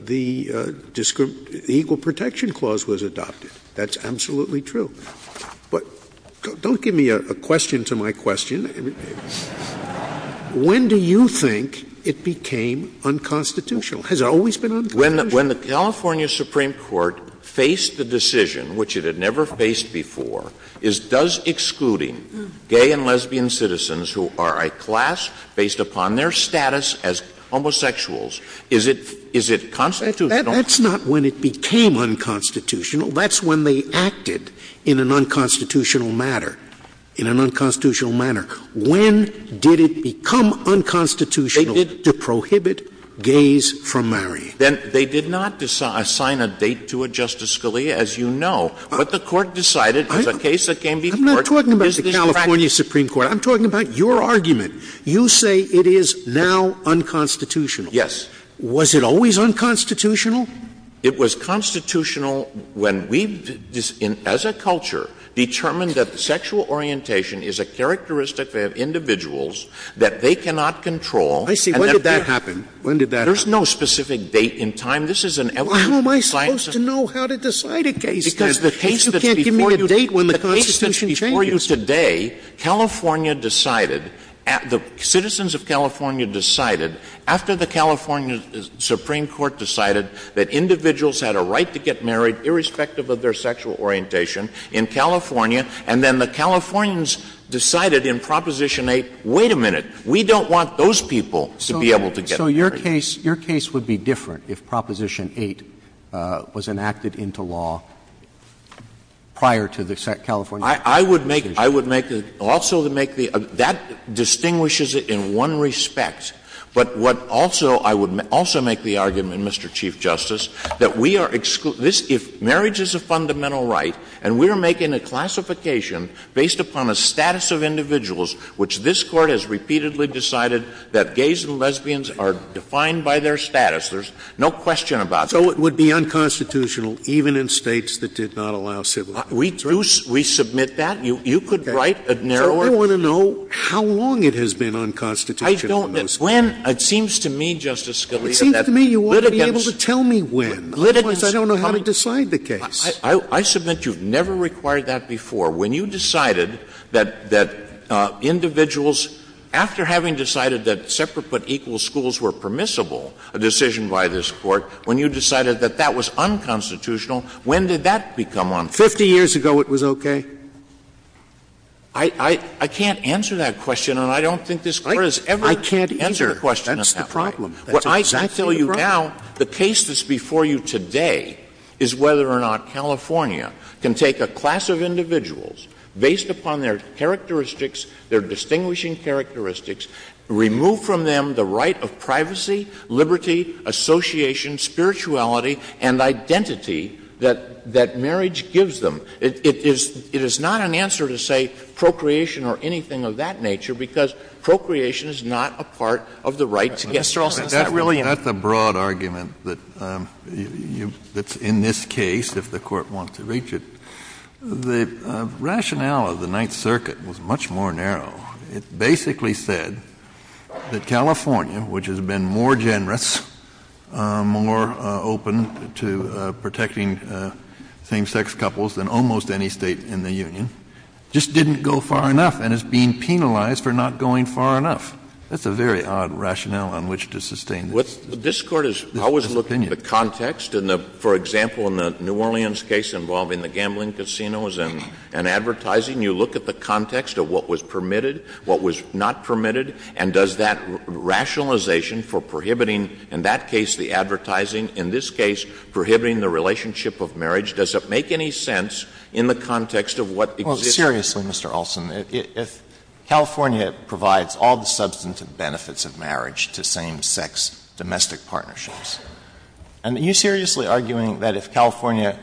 the equal protection clause was adopted. That's absolutely true. But don't give me a question for my question. When do you think it became unconstitutional? Has it always been unconstitutional? When the California Supreme Court faced the decision, which it had never faced before, does excluding gay and lesbian citizens who are a class based upon their status as homosexuals, is it constitutional? That's not when it became unconstitutional. That's when they acted in an unconstitutional manner. In an unconstitutional manner. When did it become unconstitutional to prohibit gays from marrying? They did not assign a date to it, Justice Scalia, as you know. But the court decided it was a case that came to court. I'm not talking about the California Supreme Court. I'm talking about your argument. You say it is now unconstitutional. Yes. Was it always unconstitutional? It was constitutional when we, as a culture, determined that sexual orientation is a characteristic of individuals that they cannot control. I see. When did that happen? There's no specific date in time. How am I supposed to know how to decide a case? Because the case that's before you today, California decided, the citizens of California decided, after the California Supreme Court decided that individuals had a right to get married, irrespective of their sexual orientation, in California, and then the Californians decided in Proposition 8, wait a minute, we don't want those people to be able to get married. So your case would be different if Proposition 8 was enacted into law prior to the California Supreme Court decision? That distinguishes it in one respect. But I would also make the argument, Mr. Chief Justice, that if marriage is a fundamental right and we're making a classification based upon a status of individuals, which this Court has repeatedly decided that gays and lesbians are defined by their status, there's no question about it. So it would be unconstitutional even in states that did not allow civil rights? We submit that? You could write a narrower? I want to know how long it has been unconstitutional. I don't know. When? It seems to me, Justice Scalia, that litigants... It seems to me you ought to be able to tell me when. Litigants... Because I don't know how to decide the case. I submit you've never required that before. When you decided that individuals, after having decided that separate but equal schools were permissible, a decision by this Court, when you decided that that was unconstitutional, when did that become unconstitutional? Fifty years ago it was okay? I can't answer that question, and I don't think this Court has ever answered that question. I can't either. That's the problem. I tell you now, the case that's before you today is whether or not California can take a class of individuals based upon their characteristics, their distinguishing characteristics, remove from them the right of privacy, liberty, association, spirituality, and identity that marriage gives them. It is not an answer to say procreation or anything of that nature, because procreation is not a part of the right to get married. That's a broad argument that's in this case, if the Court wants to reach it. The rationale of the Ninth Circuit was much more narrow. It basically said that California, which has been more generous, more open to protecting same-sex couples than almost any state in the Union, just didn't go far enough and is being penalized for not going far enough. That's a very odd rationale on which to sustain this. This Court has always looked at the context. For example, in the New Orleans case involving the gambling casinos and advertising, you look at the context of what was permitted, what was not permitted, and does that rationalization for prohibiting, in that case the advertising, in this case prohibiting the relationship of marriage, does it make any sense in the context of what exists? Well, seriously, Mr. Olson, if California provides all the substantive benefits of marriage to same-sex domestic partnerships, are you seriously arguing that if California,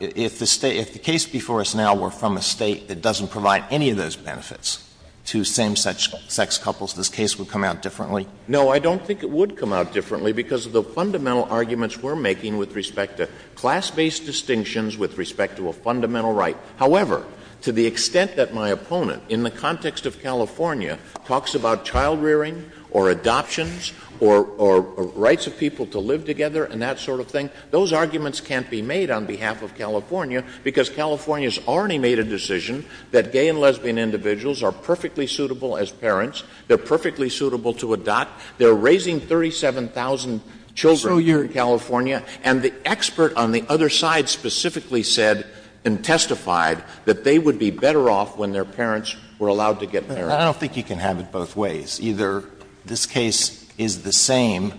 if the case before us now were from a state that doesn't provide any of those benefits to same-sex couples, this case would come out differently? No, I don't think it would come out differently because of the fundamental arguments we're making with respect to class-based distinctions, with respect to a fundamental right. However, to the extent that my opponent, in the context of California, talks about child-rearing or adoptions or rights of people to live together and that sort of thing, those arguments can't be made on behalf of California because California's already made a decision that gay and lesbian individuals are perfectly suitable as parents, they're perfectly suitable to adopt, they're raising 37,000 children in California, and the expert on the other side specifically said and testified that they would be better off when their parents were allowed to get married. I don't think you can have it both ways. Either this case is the same,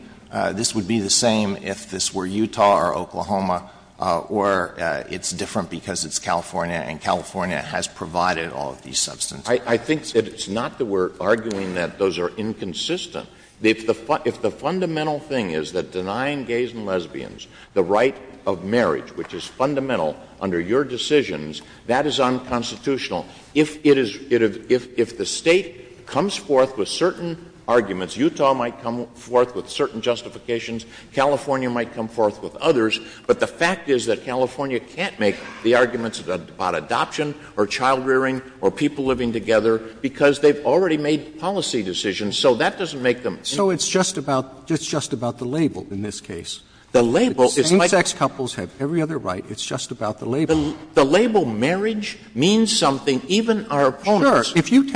this would be the same if this were Utah or Oklahoma, or it's different because it's California and California has provided all of these substances. I think that it's not that we're arguing that those are inconsistent. If the fundamental thing is that denying gays and lesbians the right of marriage, which is fundamental under your decisions, that is unconstitutional. If the state comes forth with certain arguments, Utah might come forth with certain justifications, California might come forth with others, but the fact is that California can't make the arguments about adoption or child-rearing or people living together because they've already made policy decisions, so that doesn't make them— So it's just about the label in this case. The label is— Same-sex couples have every other right, it's just about the label. The label marriage means something, even our opponents— If you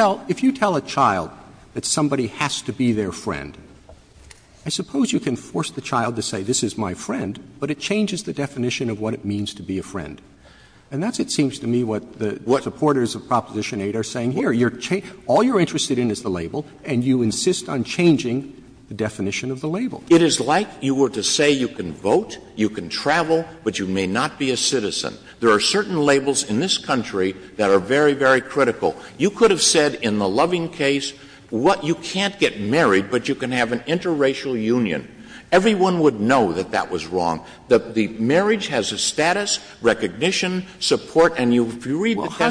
tell a child that somebody has to be their friend, I suppose you can force the child to say, this is my friend, but it changes the definition of what it means to be a friend. And that's, it seems to me, what the supporters of Proposition 8 are saying here. All you're interested in is the label, and you insist on changing the definition of the label. It is like you were to say you can vote, you can travel, but you may not be a citizen. There are certain labels in this country that are very, very critical. You could have said in the Loving case, you can't get married, but you can have an interracial union. Everyone would know that that was wrong. The marriage has a status, recognition, support, and you read the— How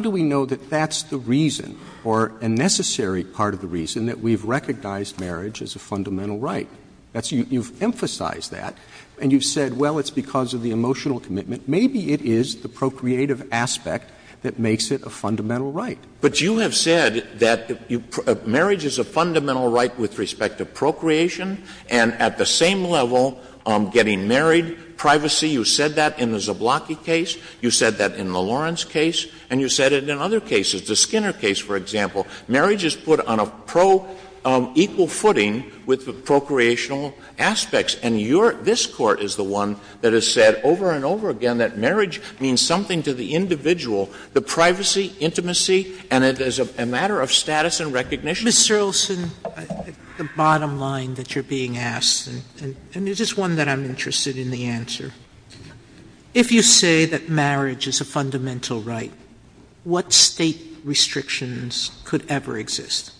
do we know that that's the reason, or a necessary part of the reason, that we've recognized marriage as a fundamental right? You've emphasized that, and you've said, well, it's because of the emotional commitment. Maybe it is the procreative aspect that makes it a fundamental right. But you have said that marriage is a fundamental right with respect to procreation, and at the same level, getting married, privacy, you said that in the Zablocki case, you said that in the Lawrence case, and you said it in other cases. The Skinner case, for example, marriage is put on an equal footing with the procreational aspects, and this Court is the one that has said over and over again that marriage means something to the individual, the privacy, intimacy, and it is a matter of status and recognition. Mr. Olson, the bottom line that you're being asked, and this is one that I'm interested in the answer. If you say that marriage is a fundamental right, what state restrictions could ever exist?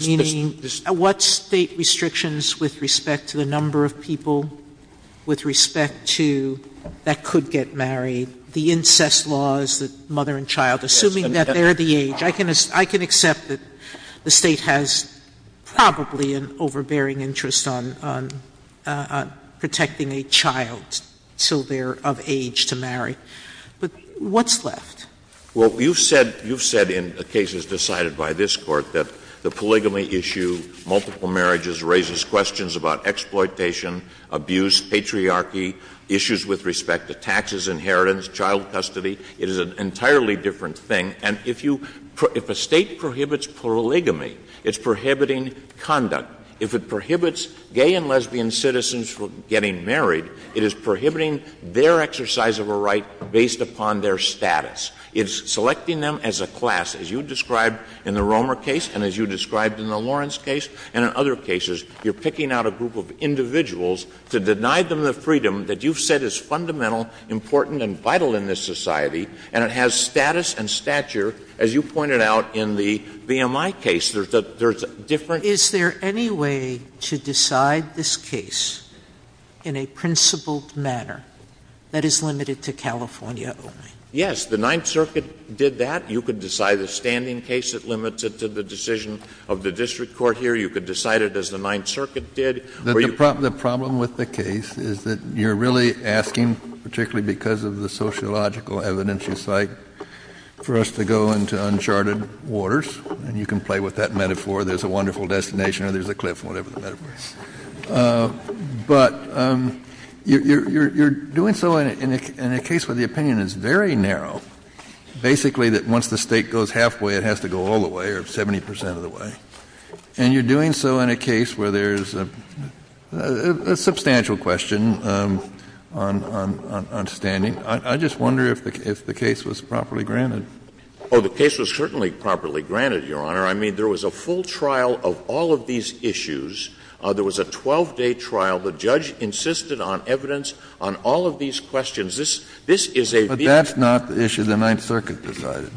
Meaning, what state restrictions with respect to the number of people, with respect to that could get married, the incest laws, the mother and child, assuming that they're the age, I can accept that the state has probably an overbearing interest on protecting a child until they're of age to marry. But what's left? Well, you've said in cases decided by this Court that the polygamy issue, multiple marriages raises questions about exploitation, abuse, patriarchy, issues with respect to taxes, inheritance, child custody. It is an entirely different thing. And if a state prohibits polygamy, it's prohibiting conduct. If it prohibits gay and lesbian citizens from getting married, it is prohibiting their exercise of a right based upon their status. It's selecting them as a class, as you described in the Romer case and as you described in the Lawrence case and in other cases. You're picking out a group of individuals to deny them the freedom that you've said is fundamental, important, and vital in this society, and it has status and stature, as you pointed out in the BMI case. Is there any way to decide this case in a principled manner that is limited to California? Yes. The Ninth Circuit did that. You could decide a standing case that limits it to the decision of the district court here. You could decide it as the Ninth Circuit did. The problem with the case is that you're really asking, particularly because of the sociological evidence in sight, for us to go into uncharted waters, and you can play with that metaphor. There's a wonderful destination, or there's a cliff, whatever the metaphor is. But you're doing so in a case where the opinion is very narrow, basically that once the state goes halfway, it has to go all the way or 70% of the way. And you're doing so in a case where there's a substantial question on standing. I just wonder if the case was properly granted. Oh, the case was certainly properly granted, Your Honor. I mean, there was a full trial of all of these issues. There was a 12-day trial. The judge insisted on evidence on all of these questions. But that's not the issue the Ninth Circuit decided.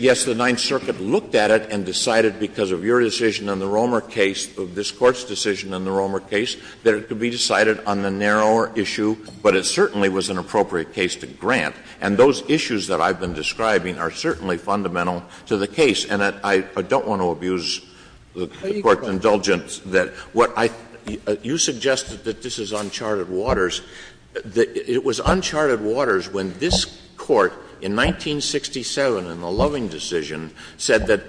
Yes, the Ninth Circuit looked at it and decided because of your decision on the Romer case, of this Court's decision on the Romer case, that it could be decided on the narrower issue, but it certainly was an appropriate case to grant. And those issues that I've been describing are certainly fundamental to the case. And I don't want to abuse the Court's indulgence. You suggested that this is uncharted waters. It was uncharted waters when this Court, in 1967, in the Loving decision, said that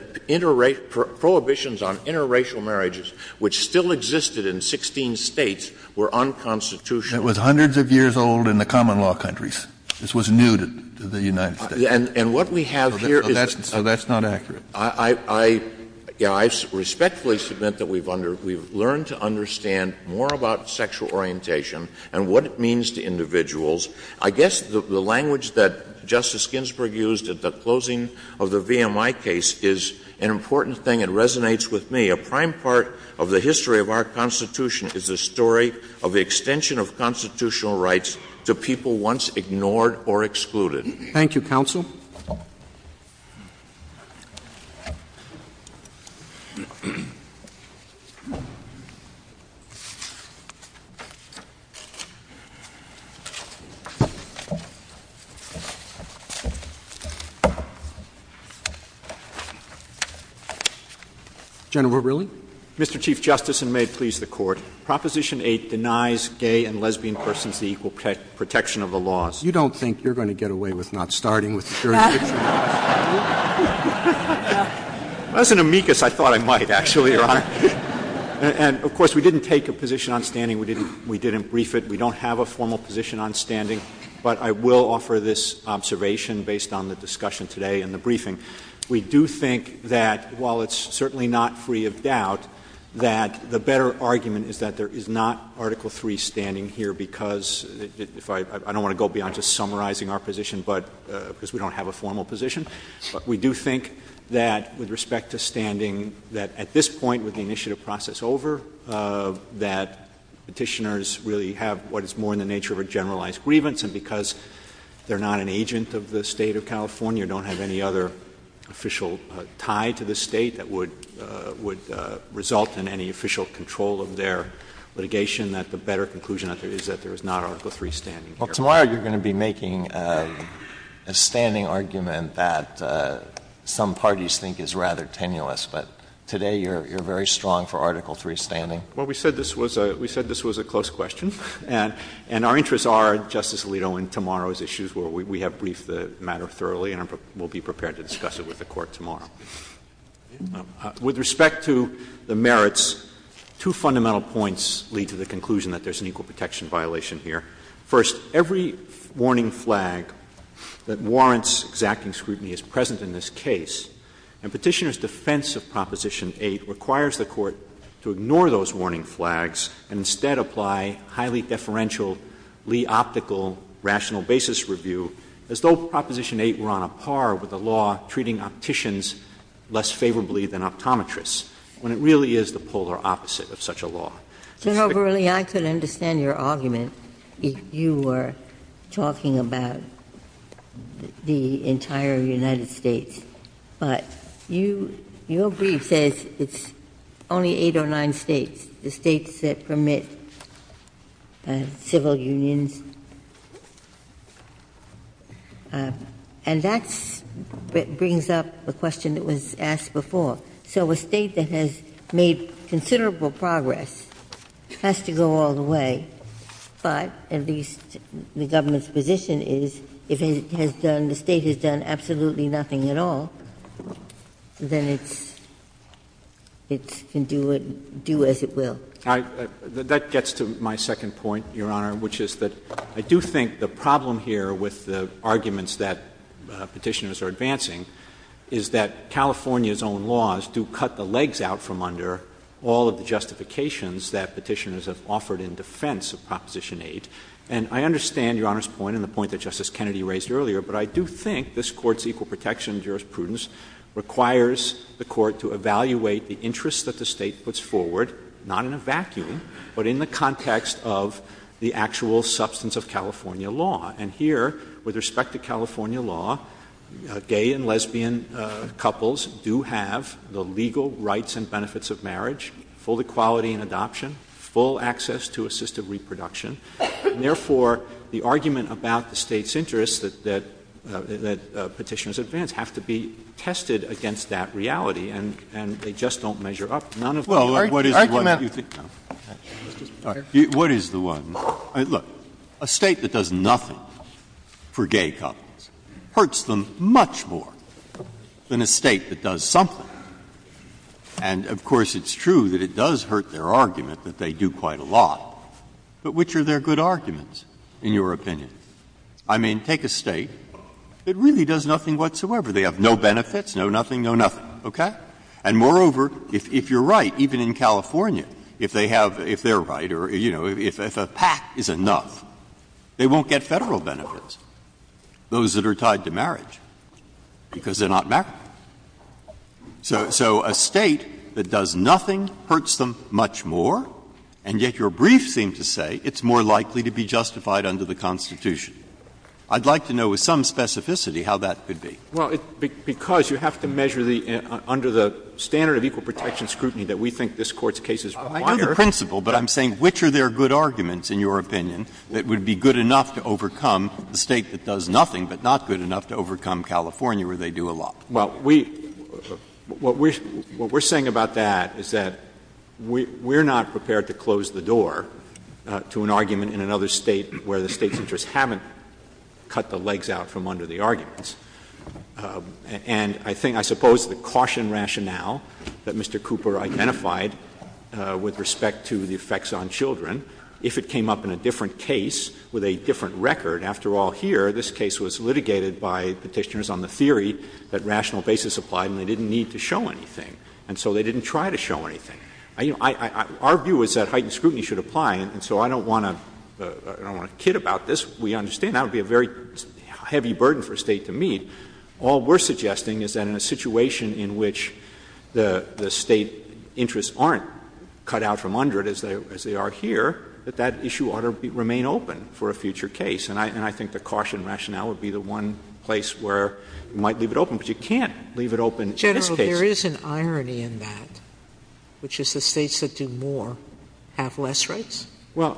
prohibitions on interracial marriages, which still existed in 16 states, were unconstitutional. It was hundreds of years old in the common law countries. This was new to the United States. And what we have here is— So that's not accurate. I respectfully submit that we've learned to understand more about sexual orientation and what it means to individuals. I guess the language that Justice Ginsburg used at the closing of the VMI case is an important thing. It resonates with me. A prime part of the history of our Constitution is the story of the extension of constitutional rights to people once ignored or excluded. Thank you, counsel. General O'Rilly? Mr. Chief Justice, and may it please the Court, Proposition 8 denies gay and lesbian persons the equal protection of the laws. You don't think you're going to get away with not starting with the jurisdiction? That was an amicus I thought I might, actually, Your Honor. And, of course, we didn't take a position on standing. We didn't brief it. We don't have a formal position on standing. But I will offer this observation based on the discussion today and the briefing. We do think that, while it's certainly not free of doubt, that the better argument is that there is not Article III standing here because I don't want to go beyond just summarizing our position because we don't have a formal position. But we do think that, with respect to standing, that at this point with the initiative process over, that Petitioners really have what is more in the nature of a generalized grievance. And because they're not an agent of the State of California, don't have any other official tie to the State that would result in any official control of their litigation, that the better conclusion is that there is not Article III standing here. Well, tomorrow you're going to be making a standing argument that some parties think is rather tenuous. But today you're very strong for Article III standing. Well, we said this was a close question. And our interests are, Justice Alito, in tomorrow's issues where we have briefed the matter thoroughly and will be prepared to discuss it with the Court tomorrow. With respect to the merits, two fundamental points lead to the conclusion that there's an equal protection violation here. First, every warning flag that warrants exacting scrutiny is present in this case. And Petitioners' defense of Proposition 8 requires the Court to ignore those warning flags and instead apply highly deferential, lee-optical, rational basis review, as though Proposition 8 were on a par with the law treating opticians less favorably than optometrists, when it really is the polar opposite of such a law. Senator Verrilli, I could understand your argument if you were talking about the entire United States. But your brief says it's only eight or nine states. The states that permit civil unions. And that brings up the question that was asked before. So a state that has made considerable progress has to go all the way. But, at least the Governor's position is, if the state has done absolutely nothing at all, then it can do as it will. That gets to my second point, Your Honor, which is that I do think the problem here with the arguments that Petitioners are advancing is that California's own laws do cut the legs out from under all of the justifications that Petitioners have offered in defense of Proposition 8. And I understand Your Honor's point and the point that Justice Kennedy raised earlier, but I do think this Court's equal protection jurisprudence requires the Court to evaluate the interest that the state puts forward, not in a vacuum, but in the context of the actual substance of California law. And here, with respect to California law, gay and lesbian couples do have the legal rights and benefits of marriage, full equality in adoption, full access to assisted reproduction. And therefore, the argument about the state's interest that Petitioners advance have to be tested against that reality, and they just don't measure up to none of that. Well, what is the one? Look, a state that does nothing for gay couples hurts them much more than a state that does something. And, of course, it's true that it does hurt their argument that they do quite a lot, but which are their good arguments, in your opinion? I mean, take a state that really does nothing whatsoever. They have no benefits, no nothing, no nothing. Okay? And, moreover, if you're right, even in California, if they're right or, you know, if a pact is enough, they won't get federal benefits, those that are tied to marriage, because they're not married. So a state that does nothing hurts them much more, and yet your brief seems to say it's more likely to be justified under the Constitution. I'd like to know with some specificity how that could be. Well, because you have to measure under the standard of equal protection scrutiny that we think this Court's case is quite fair. I know the principle, but I'm saying which are their good arguments, in your opinion, that would be good enough to overcome the state that does nothing, but not good enough to overcome California, where they do a lot? Well, what we're saying about that is that we're not prepared to close the door to an argument in another state where the state's interests haven't cut the legs out from under the arguments. And I think, I suppose, the caution rationale that Mr. Cooper identified with respect to the effects on children, if it came up in a different case with a different record, after all, here, this case was litigated by Petitioners on the theory that rational basis applied and they didn't need to show anything. And so they didn't try to show anything. Our view is that heightened scrutiny should apply, and so I don't want to kid about this. We understand that would be a very heavy burden for a state to meet. All we're suggesting is that in a situation in which the state interests aren't cut out from under it, as they are here, that that issue ought to remain open for a future case. And I think the caution rationale would be the one place where you might leave it open. But you can't leave it open in this case. General, there is an irony in that, which is the states that do more have less rights? Well,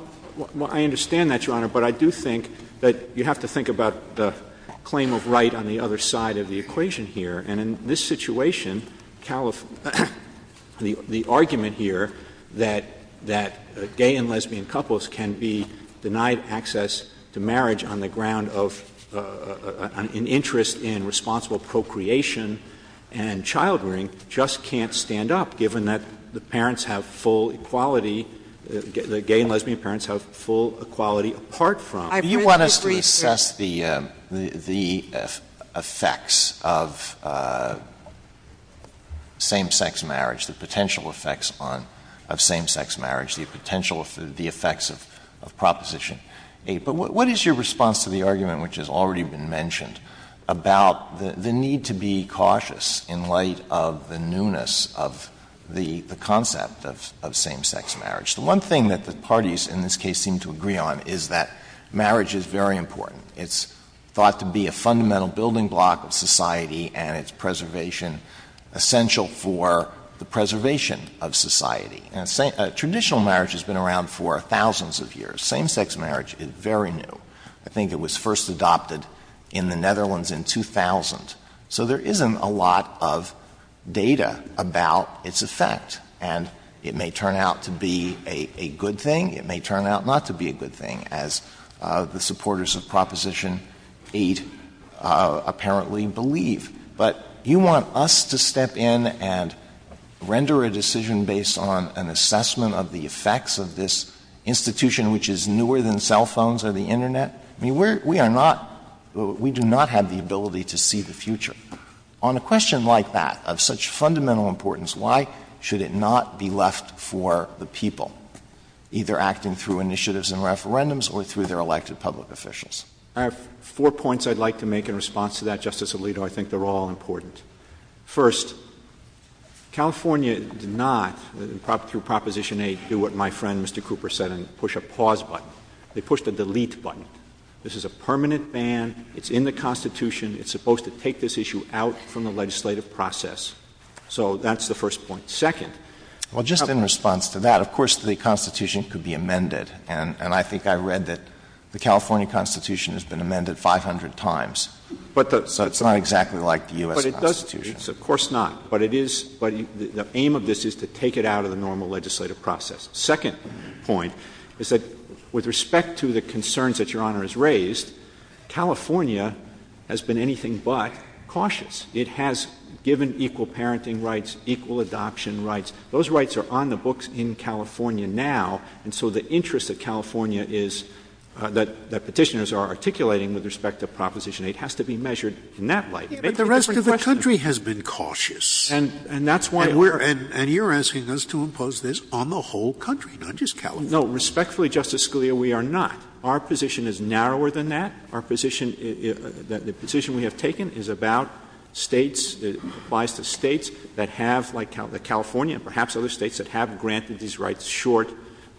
I understand that, Your Honor, but I do think that you have to think about the claim of right on the other side of the equation here. And in this situation, the argument here that gay and lesbian couples can be denied access to marriage on the ground of an interest in responsible procreation and child rearing just can't stand up, given that the parents have full equality, the gay and lesbian parents have full equality apart from. Do you want us to test the effects of same-sex marriage, the potential effects of same-sex marriage, the potential effects of Proposition 8? But what is your response to the argument, which has already been mentioned, about the need to be cautious in light of the newness of the concept of same-sex marriage? The one thing that the parties in this case seem to agree on is that marriage is very important. It's thought to be a fundamental building block of society, and it's preservation essential for the preservation of society. Traditional marriage has been around for thousands of years. Same-sex marriage is very new. I think it was first adopted in the Netherlands in 2000. So there isn't a lot of data about its effect, and it may turn out to be a good thing. It may turn out not to be a good thing, as the supporters of Proposition 8 apparently believe. But do you want us to step in and render a decision based on an assessment of the effects of this institution, which is newer than cell phones or the Internet? We do not have the ability to see the future. On a question like that, of such fundamental importance, why should it not be left for the people, either acting through initiatives and referendums or through their elected public officials? I have four points I'd like to make in response to that, Justice Alito. I think they're all important. First, California did not, through Proposition 8, do what my friend Mr. Cooper said and push a pause button. They pushed a delete button. This is a permanent ban. It's in the Constitution. It's supposed to take this issue out from the legislative process. So that's the first point. Second— Well, just in response to that, of course the Constitution could be amended, and I think I read that the California Constitution has been amended 500 times. So it's not exactly like the U.S. Constitution. But it does change. Of course not. But the aim of this is to take it out of the normal legislative process. The second point is that with respect to the concerns that Your Honor has raised, California has been anything but cautious. It has given equal parenting rights, equal adoption rights. Those rights are on the books in California now, and so the interest of California is that Petitioners are articulating with respect to Proposition 8 has to be measured in that light. The rest of the country has been cautious. And that's why we're— And you're asking us to impose this on the whole country, not just California. No. Respectfully, Justice Scalia, we are not. Our position is narrower than that. Our position — the position we have taken is about States — applies to States that have, like California and perhaps other States, that have granted these rights short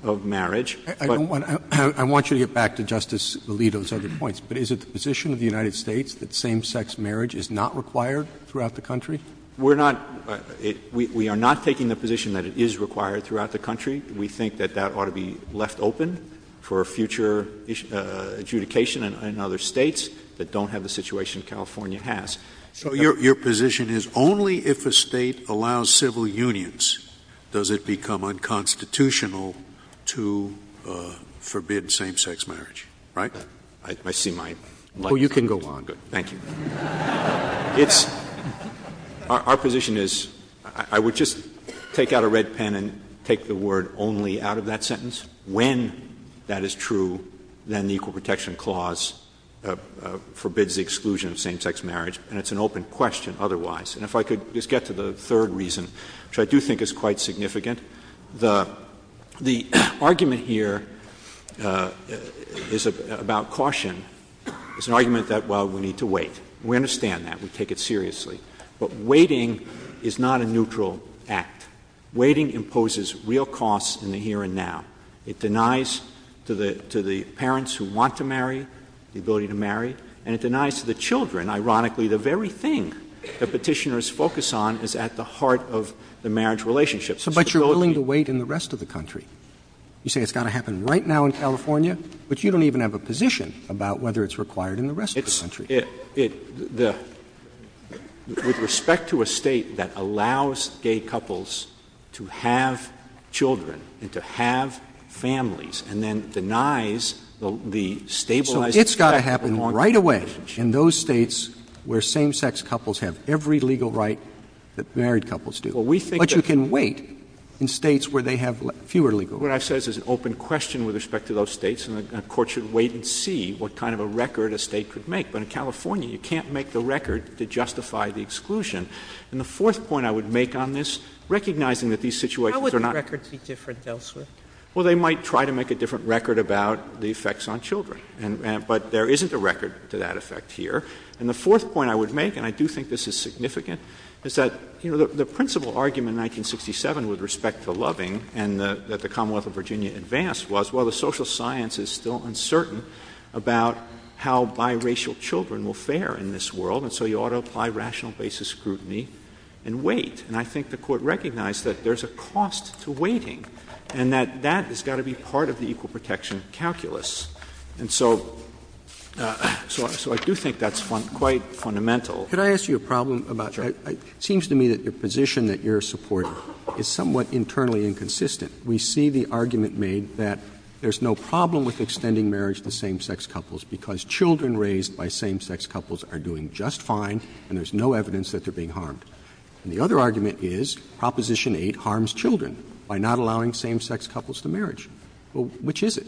of marriage. I want you to get back to Justice Alito's other points. But is it the position of the United States that same-sex marriage is not required throughout the country? We're not — we are not taking the position that it is required throughout the country. We think that that ought to be left open for future adjudication in other States that don't have the situation California has. So your position is only if a State allows civil unions does it become unconstitutional to forbid same-sex marriage, right? I see my— Well, you can go on. Thank you. Our position is — I would just take out a red pen and take the word only out of that sentence. When that is true, then the Equal Protection Clause forbids the exclusion of same-sex marriage. And it's an open question otherwise. And if I could just get to the third reason, which I do think is quite significant, the argument here is about caution. It's an argument that, well, we need to wait. We understand that. We take it seriously. But waiting is not a neutral act. Waiting imposes real costs in the here and now. It denies to the parents who want to marry the ability to marry, and it denies to the children. Ironically, the very thing that Petitioners focus on is at the heart of the marriage relationship. But you're willing to wait in the rest of the country. You say it's got to happen right now in California, but you don't even have a position about whether it's required in the rest of the country. With respect to a state that allows gay couples to have children and to have families and then denies the stabilization— So it's got to happen right away in those states where same-sex couples have every legal right that married couples do. But you can wait in states where they have fewer legal rights. What I said is an open question with respect to those states, and the Court should wait and see what kind of a record a state could make. But in California, you can't make the record to justify the exclusion. And the fourth point I would make on this, recognizing that these situations are not— How would the record be different elsewhere? Well, they might try to make a different record about the effects on children. But there isn't a record to that effect here. And the fourth point I would make, and I do think this is significant, is that the principle argument in 1967 with respect to loving and that the Commonwealth of Virginia advanced was, well, the social science is still uncertain about how biracial children will fare in this world, and so you ought to apply rational basis scrutiny and wait. And I think the Court recognized that there's a cost to waiting and that that has got to be part of the equal protection calculus. And so I do think that's quite fundamental. Could I ask you a problem about — it seems to me that the position that you're supporting is somewhat internally inconsistent. We see the argument made that there's no problem with extending marriage to same-sex couples because children raised by same-sex couples are doing just fine and there's no evidence that they're being harmed. And the other argument is Proposition 8 harms children by not allowing same-sex couples to marriage. Well, which is it?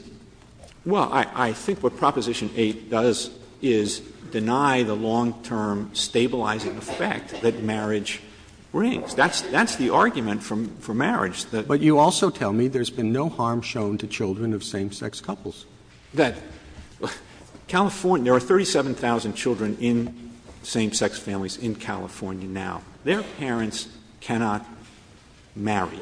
Well, I think what Proposition 8 does is deny the long-term stabilizing effect that marriage brings. That's the argument for marriage. But you also tell me there's been no harm shown to children of same-sex couples. There are 37,000 children in same-sex families in California now. Their parents cannot marry.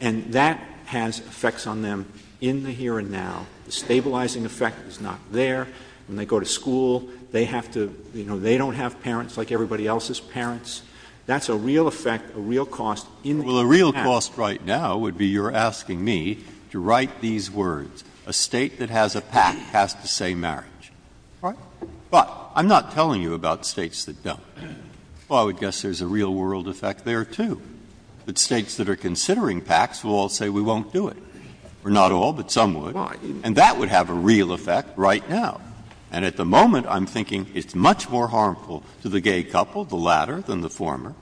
And that has effects on them in the here and now. The stabilizing effect is not there. When they go to school, they have to — you know, they don't have parents like everybody else's parents. That's a real effect, a real cost in — Well, a real cost right now would be you're asking me to write these words. A state that has a pact has to say marriage. All right. But I'm not telling you about states that don't. Well, I would guess there's a real-world effect there, too. The states that are considering pacts will all say we won't do it. Or not all, but some would. Right. And that would have a real effect right now. And at the moment, I'm thinking it's much more harmful to the gay couple, the latter, than the former.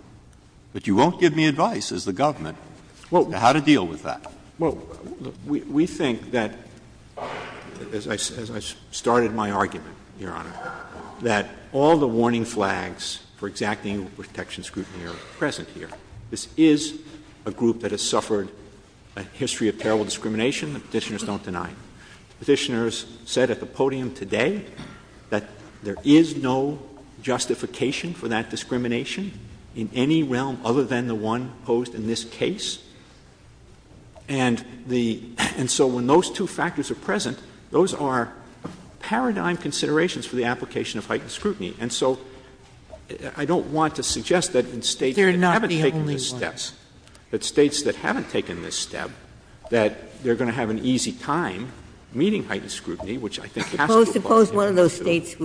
But you won't give me advice, as the government, on how to deal with that. Well, we think that, as I started my argument, Your Honor, that all the warning flags for exacting protection scrutiny are present here. This is a group that has suffered a history of terrible discrimination that petitioners don't deny. Petitioners said at the podium today that there is no justification for that discrimination in any realm other than the one posed in this case. And so when those two factors are present, those are paradigm considerations for the application of heightened scrutiny. And so I don't want to suggest that in states that haven't taken these steps, that states that haven't taken this step, that they're going to have an easy time meeting heightened scrutiny, which I think has to apply to all of those states. It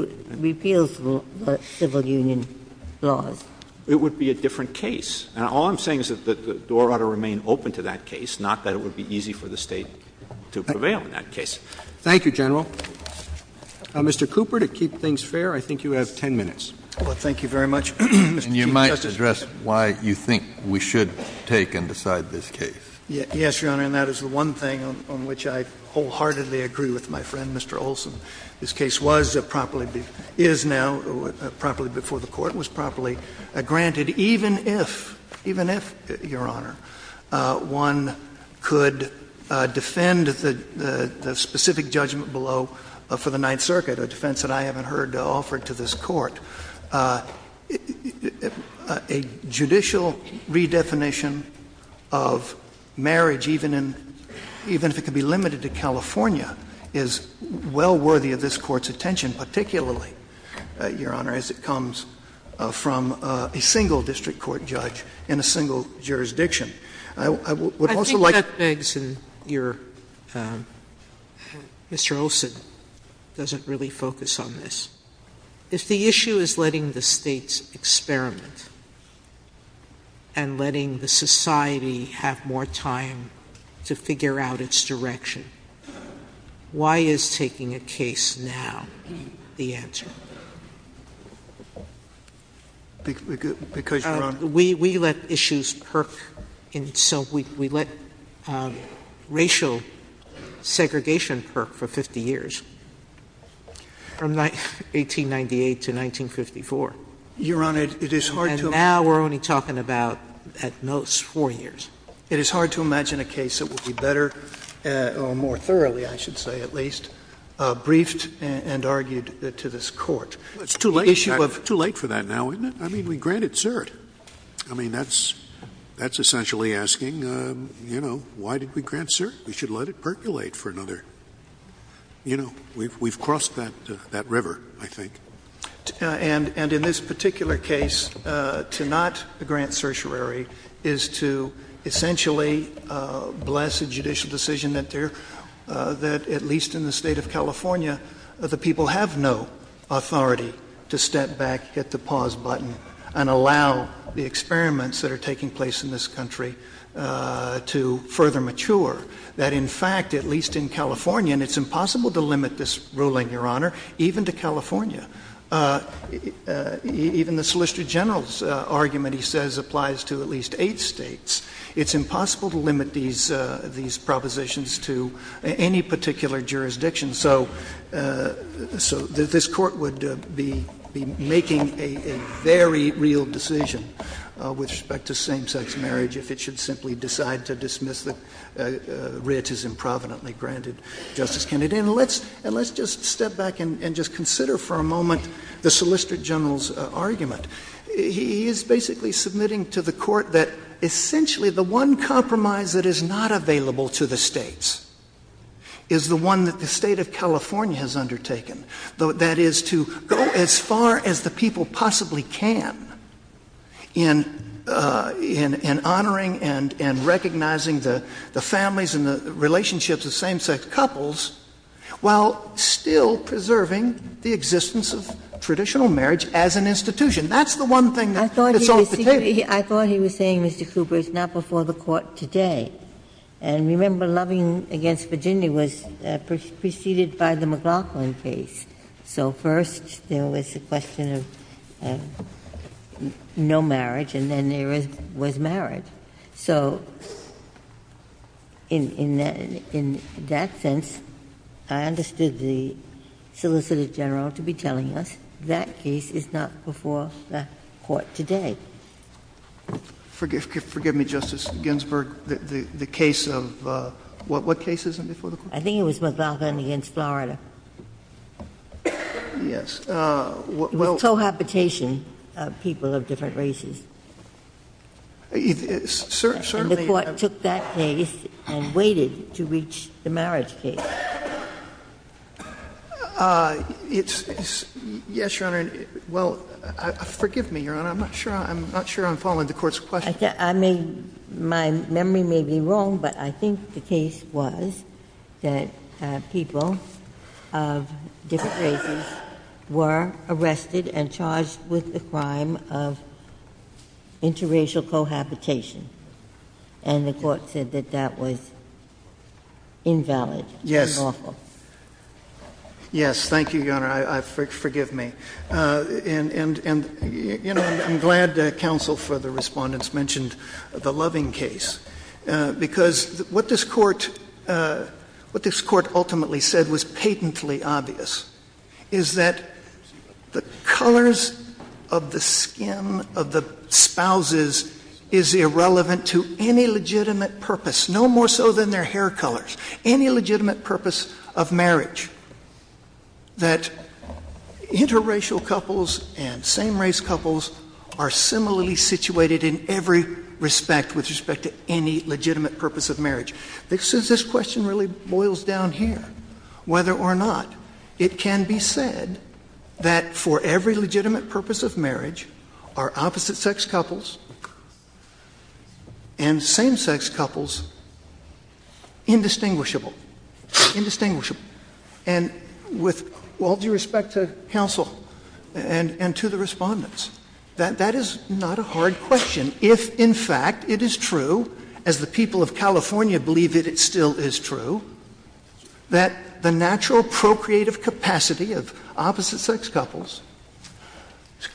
would be a different case. Now, all I'm saying is that the door ought to remain open to that case, not that it would be easy for the state to prevail in that case. Thank you, General. Mr. Cooper, to keep things fair, I think you have 10 minutes. Thank you very much. And you might address why you think we should take and decide this case. Yes, Your Honor. And that is one thing on which I wholeheartedly agree with my friend, Mr. Olson. This case is now properly before the court, was properly granted, even if, Your Honor, one could defend the specific judgment below for the Ninth Circuit, a defense that I haven't heard offered to this court. A judicial redefinition of marriage, even if it could be limited to California, is well worthy of this Court's attention, particularly, Your Honor, as it comes from a single district court judge in a single jurisdiction. I would also like to — I think that begs your — Mr. Olson doesn't really focus on this. If the issue is letting the states experiment and letting the society have more time to figure out its direction, why is taking a case now the answer? Because, Your Honor — We let issues perk, and so we let racial segregation perk for 50 years. From 1898 to 1954. Your Honor, it is hard to — And now we're only talking about, at most, four years. It is hard to imagine a case that would be better, or more thoroughly, I should say at least, briefed and argued to this Court. It's too late for that now, isn't it? I mean, we grant it cert. I mean, that's essentially asking, you know, why did we grant cert? We should let it percolate for another — you know, we've crossed that river, I think. And in this particular case, to not grant certiorari is to essentially bless a judicial decision that, at least in the state of California, the people have no authority to step back, get the pause button, and allow the experiments that are taking place in this country to further mature. That, in fact, at least in California — and it's impossible to limit this ruling, Your Honor, even to California. Even the Solicitor General's argument, he says, applies to at least eight states. It's impossible to limit these propositions to any particular jurisdiction. So this Court would be making a very real decision with respect to same-sex marriage if it should simply decide to dismiss the writ as improvidently granted, Justice Kennedy. And let's just step back and just consider for a moment the Solicitor General's argument. He is basically submitting to the Court that essentially the one compromise that is not available to the states is the one that the state of California has undertaken, that is to go as far as the people possibly can in honoring and recognizing the families and the relationships of same-sex couples while still preserving the existence of traditional marriage as an institution. That's the one thing that's off the table. I thought he was saying, Mr. Cooper, it's not before the Court today. And remember, Loving v. Virginia was preceded by the McLaughlin case. So first there was the question of no marriage, and then there was marriage. So in that sense, I understood the Solicitor General to be telling us that case is not before the Court today. Forgive me, Justice Ginsburg. The case of what case is it before the Court? I think it was McLaughlin v. Florida. Yes. With cohabitation of people of different races. And the Court took that case and waited to reach the marriage case. Yes, Your Honor. Well, forgive me, Your Honor. I'm not sure I'm following the Court's question. My memory may be wrong, but I think the case was that people of different races were arrested and charged with the crime of interracial cohabitation. And the Court said that that was invalid. Yes. Yes, thank you, Your Honor. Forgive me. And I'm glad that counsel for the respondents mentioned the Loving case, because what this Court ultimately said was patently obvious, is that the colors of the skin of the spouses is irrelevant to any legitimate purpose, no more so than their hair colors, any legitimate purpose of marriage, that interracial couples and same-race couples are similarly situated in every respect with respect to any legitimate purpose of marriage. This question really boils down here. Whether or not it can be said that for every legitimate purpose of marriage are opposite-sex couples and same-sex couples indistinguishable. Indistinguishable. And with all due respect to counsel and to the respondents, that is not a hard question if, in fact, it is true, as the people of California believe that it still is true, that the natural procreative capacity of opposite-sex couples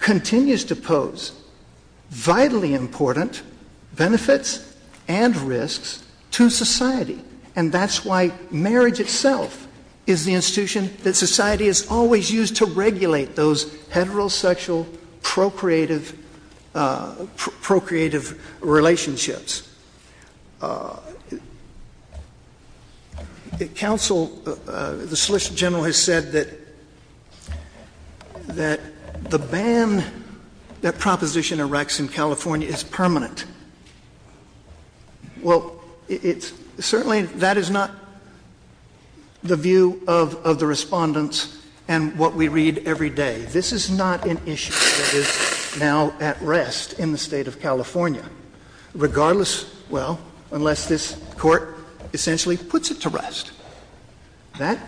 continues to pose vitally important benefits and risks to society. And that's why marriage itself is the institution that society has always used to regulate those heterosexual procreative relationships. Counsel, the Solicitor General has said that the ban that proposition erects in California is permanent. Well, certainly that is not the view of the respondents and what we read every day. This is not an issue that is now at rest in the state of California, regardless, well, unless this court essentially puts it to rest. That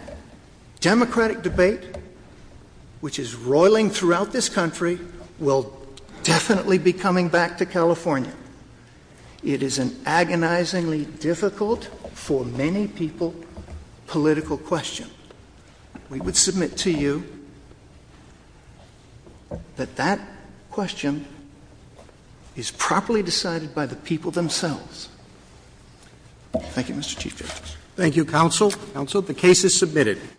democratic debate, which is roiling throughout this country, will definitely be coming back to California. It is an agonizingly difficult for many people political question. We would submit to you that that question is properly decided by the people themselves. Thank you, Mr. Chief Justice. Thank you, counsel. Counsel, the case is submitted.